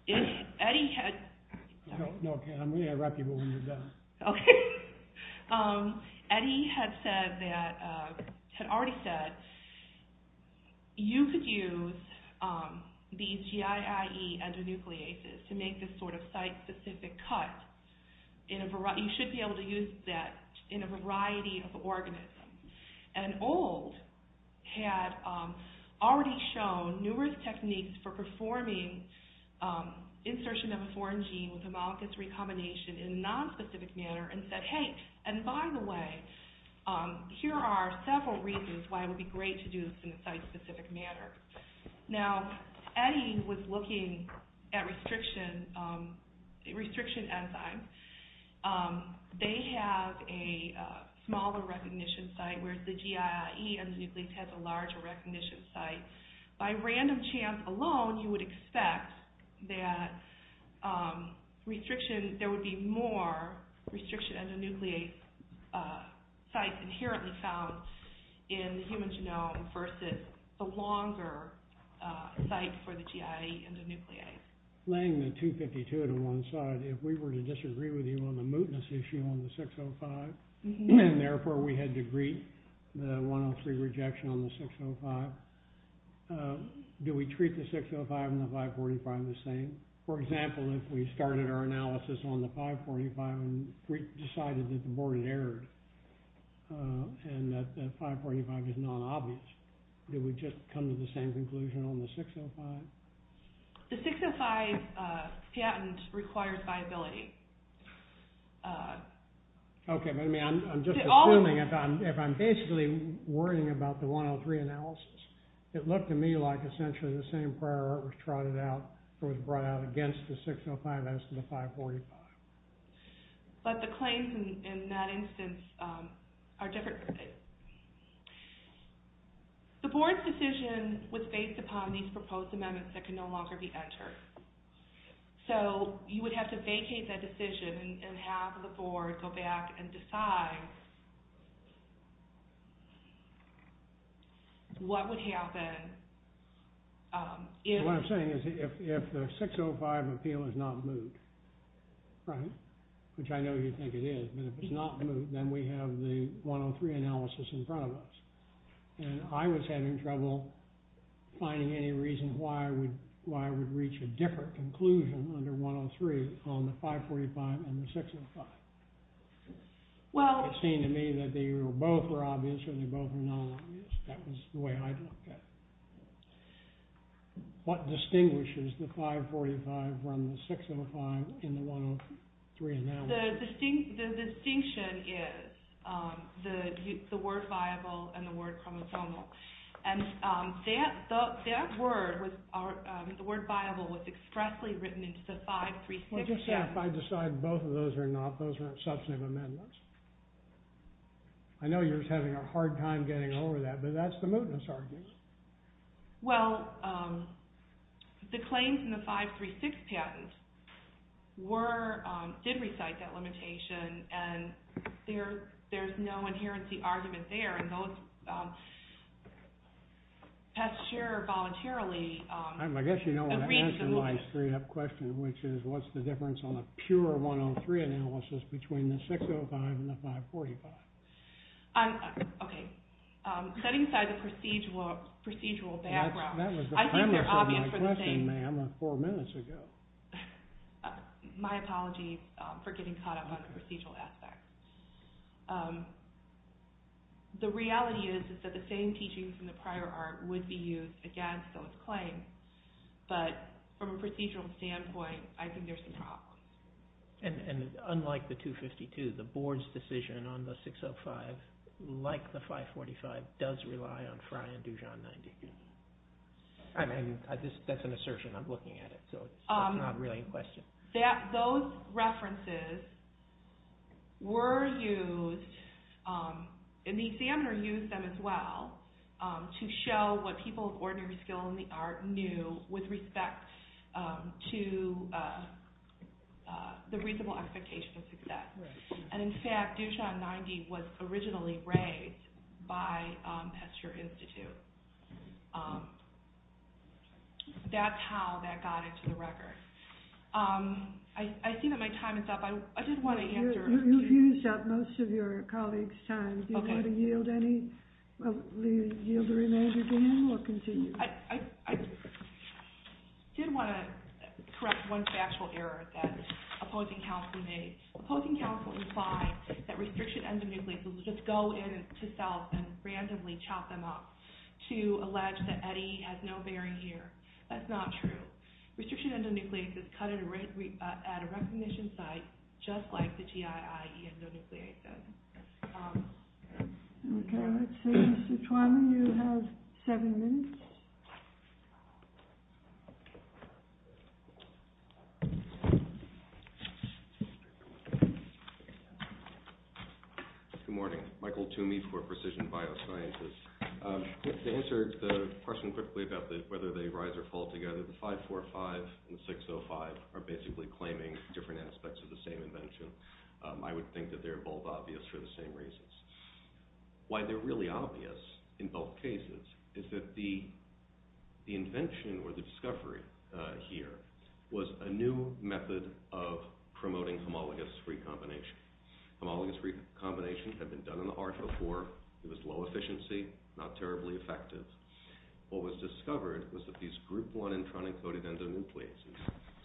If Eddy had... Okay, I'm going to interrupt you while you're done. Okay. Eddy had already said you could use these GII endonucleases to make this sort of site-specific cut. You should be able to use that in a variety of organisms. And Old had already shown numerous techniques for performing insertion of a foreign gene with a monoculture recombination in a non-specific manner and said, hey, and by the way, here are several reasons why it would be great to do this in a site-specific manner. Now, Eddy was looking at restriction enzymes. They have a smaller recognition site, whereas the GII endonuclease has a larger recognition site. By random chance alone, you would expect that restriction... There would be more restriction endonuclease sites inherently found in the human genome versus the longer sites for the GII endonuclease. Laying the 252 to one side, if we were to disagree with you on the mootness issue on the 605, and therefore we had to greet the 103 rejection on the 605, do we treat the 605 and the 545 the same? For example, if we started our analysis on the 545 and decided that the board had errored and that the 545 is non-obvious, did we just come to the same conclusion on the 605? The 605 patent requires viability. Okay, but I'm just assuming if I'm basically worrying about the 103 analysis, it looked to me like essentially the same prior art was trotted out against the 605 as to the 545. But the claims in that instance are different. The board's decision was based upon these proposed amendments that can no longer be entered. So you would have to vacate that decision and have the board go back and decide what would happen if... What I'm saying is if the 605 appeal is not moot, which I know you think it is, but if it's not moot, then we have the 103 analysis in front of us. And I was having trouble finding any reason why I would reach a different conclusion under 103 on the 545 and the 605. Well, it seemed to me that they were both non-obvious. That was the way I looked at it. What distinguishes the 545 from the 605 in the 103 analysis? The distinction is the word viable and the word chromosomal. And that word, the word viable, was expressly written into the five precincts. Would you say if I decide both of those are not, those aren't substantive amendments? I know you're having a hard time getting over that, but that's the mootness argument. Well, the claims in the 536 patent did recite that limitation, and there's no inherency argument there. And those test chair voluntarily agreed to the mootness. I guess you don't want to answer my straight-up question, which is what's the difference on the pure 103 analysis between the 605 and the 545? Okay. Setting aside the procedural background... That was the premise of my question, ma'am, four minutes ago. My apologies for getting caught up with the procedural aspect. The reality is that the same teaching from the prior art would be used against those claims, but from a procedural standpoint, I think there's a problem. And unlike the 252, the board's decision on the 605, like the 545, does rely on Frye and Dujon 90. I mean, that's an assertion. I'm looking at it, so it's not really a question. Those references were used, and the examiner used them as well, to show what people of ordinary skill in the art knew with respect to the reasonable expectation of success. And in fact, Dujon 90 was originally raised by Hester Institute. That's how that got into the record. I see that my time is up. I just want to answer... You've used up most of your colleagues' time. Do you want to yield any? Yield the remainder to me, or continue? I did want to correct one factual error that opposing counsel made. Opposing counsel replied that restriction endonucleases just go in to cells and randomly chop them up to allege that Eddie has no bearing here. That's not true. Restriction endonucleases cut at a recognition site just like the GII endonucleases. Okay. Mr. Twyman, you have seven minutes. Good morning. Michael Toomey for Precision Biosciences. To answer the question quickly about whether they rise or fall together, 545 and 605 are basically claiming different aspects of the same invention. I would think that they're both obvious for the same reasons. Why they're really obvious in both cases is that the invention or the discovery here was a new method of promoting homologous recombination. Homologous recombination had been done in the heart before. It was low efficiency, not terribly effective. What was discovered was that these group 1 endonucleases,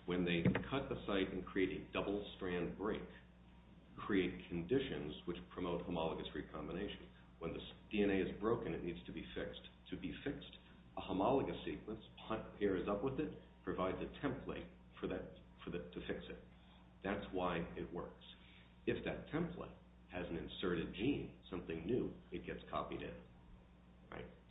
when they cut the site and create a double-strand break, create conditions which promote homologous recombination. When the DNA is broken, it needs to be fixed. To be fixed, a homologous sequence pairs up with it, provides a template for that to fix it. That's why it works. If that template has an inserted gene, something new, it gets copied in.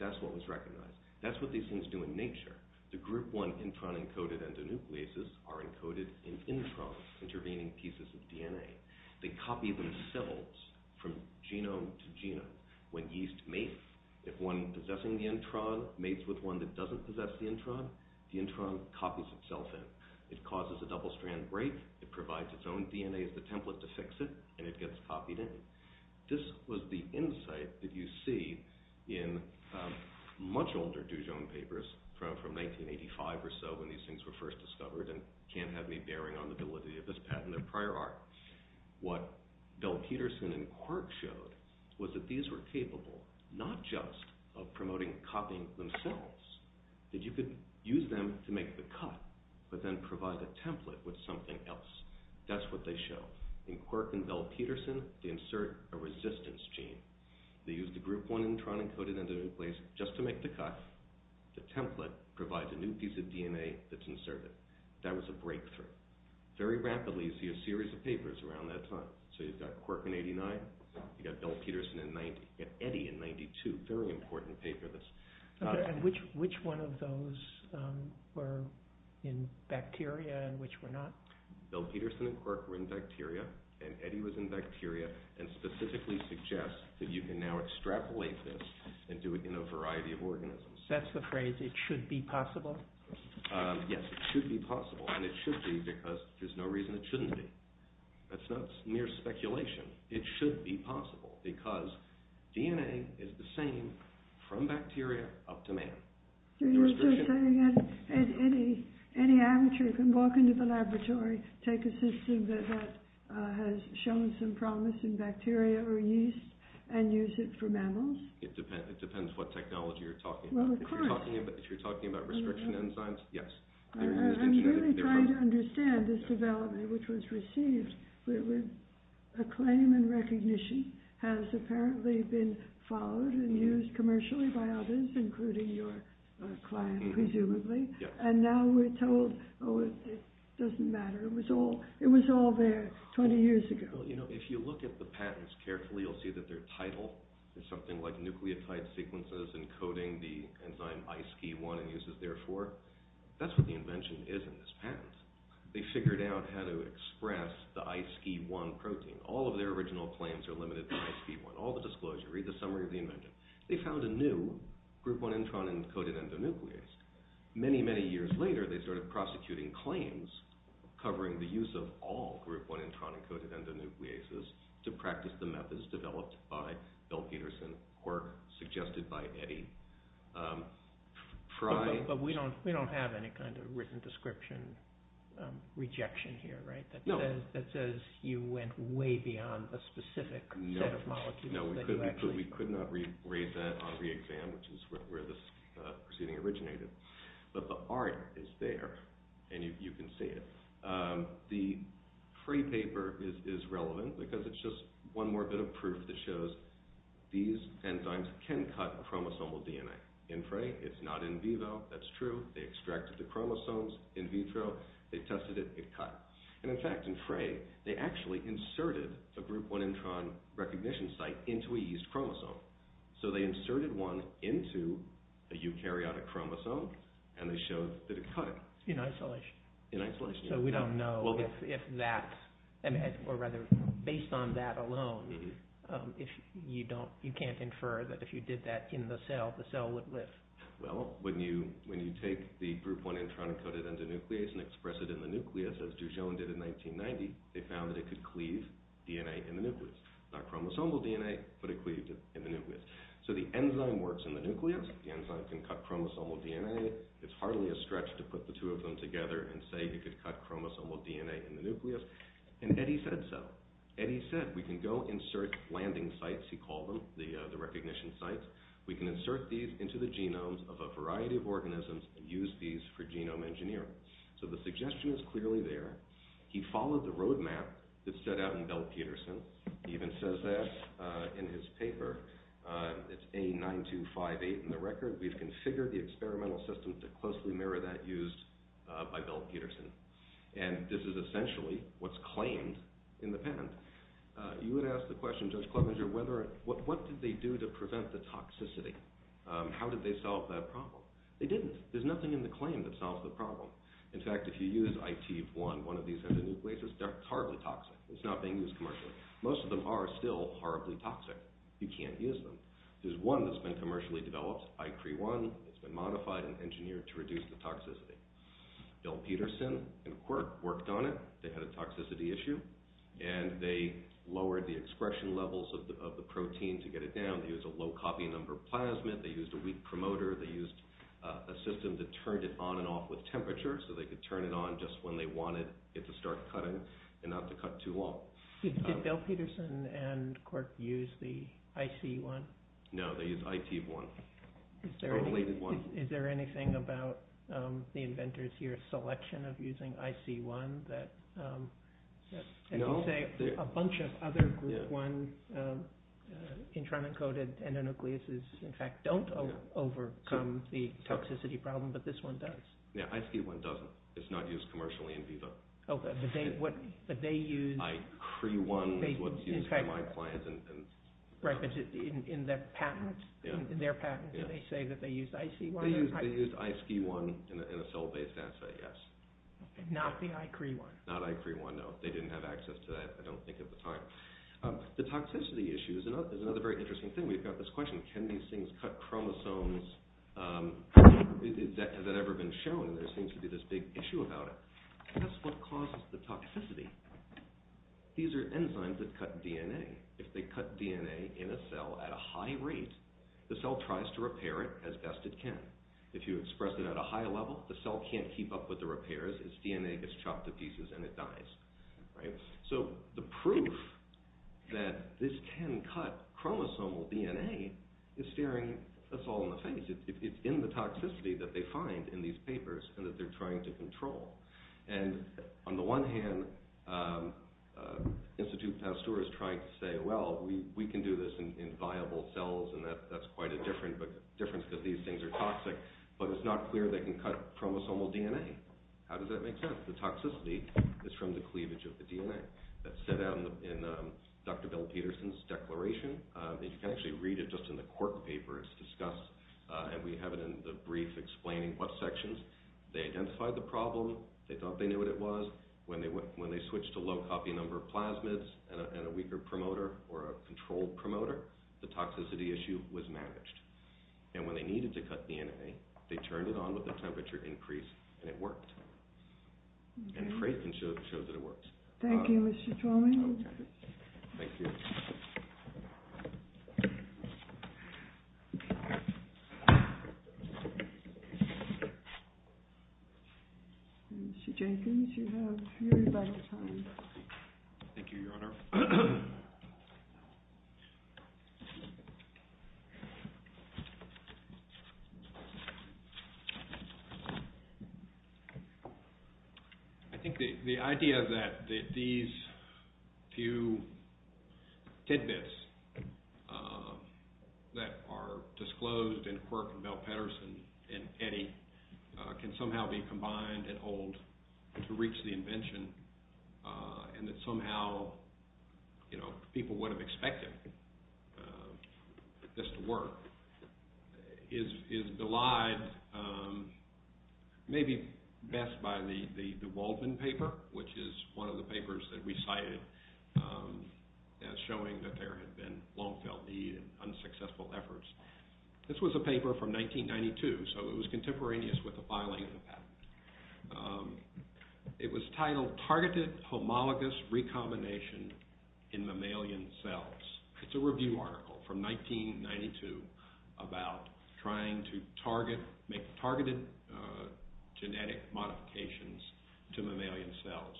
That's what was recognized. That's what these things do in nature. The group 1 intron-encoded endonucleases are encoded in introns, intervening pieces of DNA. They copy themselves from genome to genome. When yeast mates, if one possessing the intron mates with one that doesn't possess the intron, the intron copies itself in. It causes a double-strand break, it provides its own DNA as a template to fix it, and it gets copied in. This was the insight that you see in much older Dujon papers from 1985 or so when these things were first discovered and can't have any bearing on the validity of this patent of prior art. What Bell-Peterson and Quirk showed was that these were capable, not just of promoting copying themselves, that you could use them to make the cut, but then provide a template with something else. That's what they show. In Quirk and Bell-Peterson, they insert a resistance gene. They use the group 1 intron-encoded endonuclease just to make the cut. The template provides a new piece of DNA that's inserted. That was a breakthrough. Very rapidly, you see a series of papers around that time. So you've got Quirk in 89, you've got Bell-Peterson in 90, you've got Eddy in 92, very important papers. Which one of those were in bacteria and which were not? Bell-Peterson and Quirk were in bacteria, and Eddy was in bacteria, and specifically suggest that you can now extrapolate this and do it in a variety of organisms. That's the phrase, it should be possible? Yes, it should be possible, and it should be because there's no reason it shouldn't be. That's not mere speculation. It should be possible because DNA is the same from bacteria up to man. So you're saying that any amateur can walk into the laboratory, take a system that has shown some promise in bacteria or yeast, and use it for mammals? It depends what technology you're talking about. If you're talking about restriction enzymes, yes. I'm really trying to understand this development which was received. A claim and recognition has apparently been followed and used commercially by others, including your client, presumably, and now we're told, oh, it doesn't matter. It was all there 20 years ago. If you look at the patterns carefully, you'll see that their title is something like nucleotide sequences encoding the enzyme ISKE-1 and uses it therefore. That's what the invention is in this pattern. They figured out how to express the ISKE-1 protein. All of their original claims are limited to ISKE-1. All the disclosures, read the summary of the invention. They found a new Group 1 intron-encoded endonuclease. Many, many years later, they started prosecuting claims covering the use of all Group 1 intron-encoded endonucleases to practice the methods developed by Bill Peterson or suggested by Eddie Fry. But we don't have any kind of written description rejection here, right? No. That says you went way beyond a specific set of molecules. No, we could not read that on re-exam, which is where this proceeding originated. But the art is there, and you can see it. The Fry paper is relevant because it's just one more bit of proof that shows these enzymes can cut chromosomal DNA. In Fry, it's not in vivo. That's true. They extracted the chromosomes in vitro. They tested it. It cut. And in fact, in Fry, they actually inserted a Group 1 intron recognition site into a yeast chromosome. So they inserted one into a eukaryotic chromosome, and they showed that it cut it. In isolation. In isolation. So we don't know if that, or rather, based on that alone, you can't infer that if you did that in the cell, the cell would live. Well, when you take the Group 1 intron-encoded endonuclease and express it in the nucleus as Duchenne did in 1990, they found that it could cleave DNA in the nucleus. Not chromosomal DNA, but it cleaved it in the nucleus. So the enzyme works in the nucleus. The enzyme can cut chromosomal DNA. It's hardly a stretch to put the two of them together and say you could cut chromosomal DNA in the nucleus. And Eddie said so. Eddie said, we can go insert landing sites, he called them, the recognition sites. We can insert these into the genomes of a variety of organisms and use these for genome engineering. So the suggestion is clearly there. He followed the roadmap that's set out in Bell-Peterson. He even says that in his paper. It's A9258 in the record. We've configured the experimental systems that closely mirror that used by Bell-Peterson. And this is essentially what's claimed in the pen. You would ask the question, Judge Klobuchar, what did they do to prevent the toxicity? How did they solve that problem? They didn't. There's nothing in the claim that solved the problem. In fact, if you use IT-1, one of these endonucleases, they're horribly toxic. It's not being used commercially. Most of them are still horribly toxic. You can't use them. There's one that's been commercially developed, IT-1, that's been modified and engineered to reduce the toxicity. Bell-Peterson and Quirk worked on it. They had a toxicity issue. And they lowered the expression levels of the protein to get it down. They used a low copy number plasmid. They used a wheat promoter. They used a system that turned it on and off with temperature so they could turn it on just when they wanted it to start cutting and not to cut too long. Did Bell-Peterson and Quirk use the IC-1? No, they used IT-1. Is there anything about the inventor's year selection of using IC-1 that, as you say, a bunch of other GLUT-1 intramarine-coated endonucleases, in fact, don't overcome the toxicity problem, but this one does? Yeah, IC-1 doesn't. It's not used commercially in vivo. But they used IC-1 in their patents. In their patents, they say that they used IC-1. They used IC-1 in a cell-based assay, yes. Not the IC-3-1. Not IC-3-1, no. They didn't have access to that, I don't think, at the time. The toxicity issue is another very interesting thing. We've got this question. Can these things cut chromosomes? Has that ever been shown? There seems to be this big issue about it. Because what causes the toxicity? These are enzymes that cut DNA. If they cut DNA in a cell at a high rate, the cell tries to repair it as best it can. If you express it at a high level, the cell can't keep up with the repairs. Its DNA gets chopped to pieces, and it dies. So the proof that this can cut chromosomal DNA is staring us all in the face. It's in the toxicity that they find in these papers and that they're trying to control. And on the one hand, Institute Pasteur is trying to say, well, we can do this in viable cells, and that's quite a difference because these things are toxic. But it's not clear they can cut chromosomal DNA. How does that make sense? The toxicity is from the cleavage of the DNA. That's set out in Dr. Bill Peterson's declaration. You can actually read it just in the court papers discussed, and we have it in the brief explaining what sections. They identified the problem. They thought they knew what it was. When they switched a low copy number of plasmids at a weaker promoter or a controlled promoter, the toxicity issue was managed. And when they needed to cut DNA, they turned it on with a temperature increase, and it worked. And it's great that it shows that it works. Thank you, Mr. Chalmers. Thank you. Mr. Jenkins, you have your microphone. Thank you, Your Honor. I think the idea that these few tidbits that are disclosed in the court from Bill Peterson and Kenny can somehow be combined and hold to reach the invention and that somehow people would have expected this to work is delivered maybe best by the Baldwin paper, which is one of the papers that we cited as showing that there had been long-tailed bee and unsuccessful efforts. This was a paper from 1992, so it was contemporaneous with the filing of patents. It was titled Targeted Homologous Recombination in Mammalian Cells. It's a review article from 1992 about trying to make targeted genetic modifications to mammalian cells.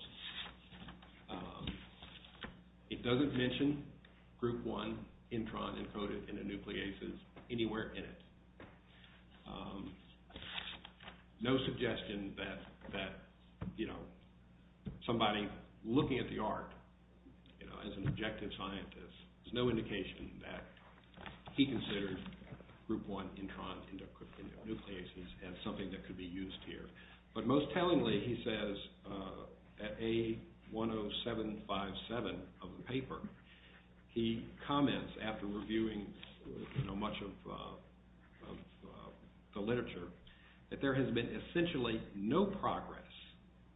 It doesn't mention group one intron encoded in the nucleases anywhere in it. No suggestion that, you know, somebody looking at the art, you know, as an objective scientist, there's no indication that he considered group one intron in the nucleases as something that could be used here. But most tellingly, he says, at A10757 of the paper, he comments after reviewing much of the literature that there has been essentially no progress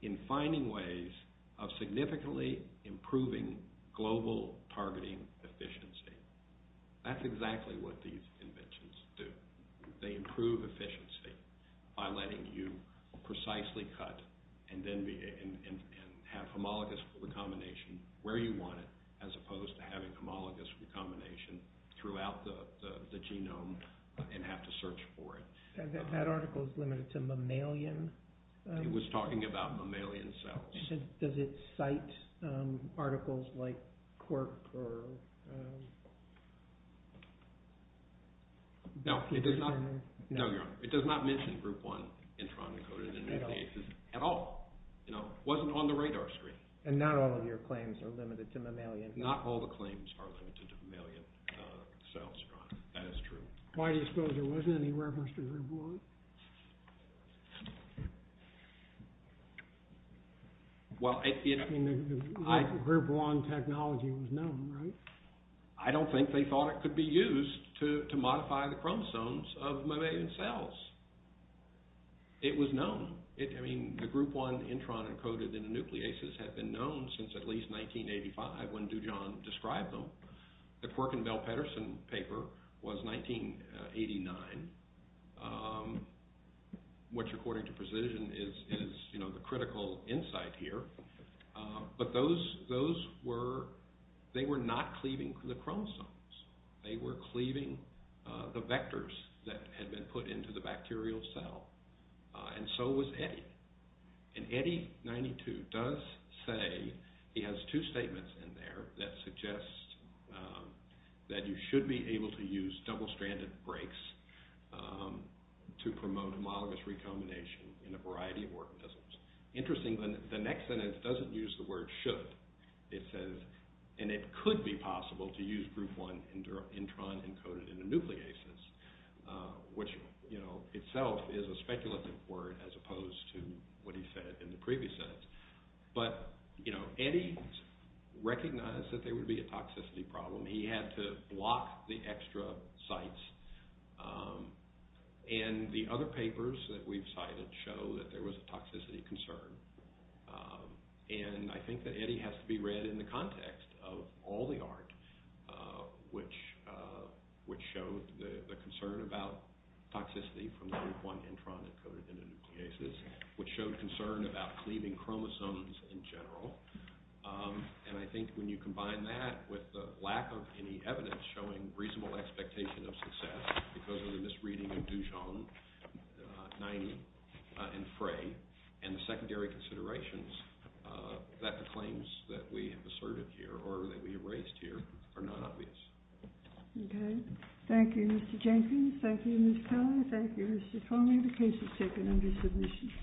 in finding ways of significantly improving global targeting efficiency. That's exactly what these inventions do. They improve efficiency by letting you precisely cut and then have homologous recombination where you want it as opposed to having homologous recombination throughout the genome and have to search for it. That article is limited to mammalian... He was talking about mammalian cells. Does it cite articles like quirk or... No, it does not mention group one intron encoded in the nucleases at all. It wasn't on the radar screen. And not all of your claims are limited to mammalian. Not all the claims are limited to mammalian cells. That is true. Why do you suppose there wasn't any reference to group one? Well, I... Group one technology was known, right? I don't think they thought it could be used to modify the chromosomes of mammalian cells. It was known. I mean, the group one intron encoded in the nucleases had been known since at least 1985, when Dujan described them. The Quirk and Bell-Petterson paper was 1989, which according to precision is the critical insight here. But those were... They were not cleaving the chromosomes. They were cleaving the vectors that had been put into the bacterial cell. And so was Eddy. And Eddy, 92, does say... He has two statements in there that suggest that you should be able to use double-stranded breaks to promote amyloid recombination in a variety of organisms. Interestingly, the next sentence doesn't use the word should. It says, and it could be possible to use group one intron encoded in the nucleases, which, you know, itself is a speculative word as opposed to what he said in the previous sentence. But, you know, Eddy recognized that there would be a toxicity problem. He had to block the extra sites. And the other papers that we've cited show that there was a toxicity concern. And I think that Eddy has to be read in the context of all the art, which showed the concern about toxicity from group one intron encoded in the nucleases, which showed concern about cleaving chromosomes in general. And I think when you combine that with the lack of any evidence showing reasonable expectation of success because of the misreading of Dujon, Nyemi, and Frey and the secondary considerations, that claims that we have asserted here or that we raised here are not obvious. Okay. Thank you, Mr. Jenkins. Thank you, Ms. Cohen. Thank you, Mr. Conley. The case is taken under submission.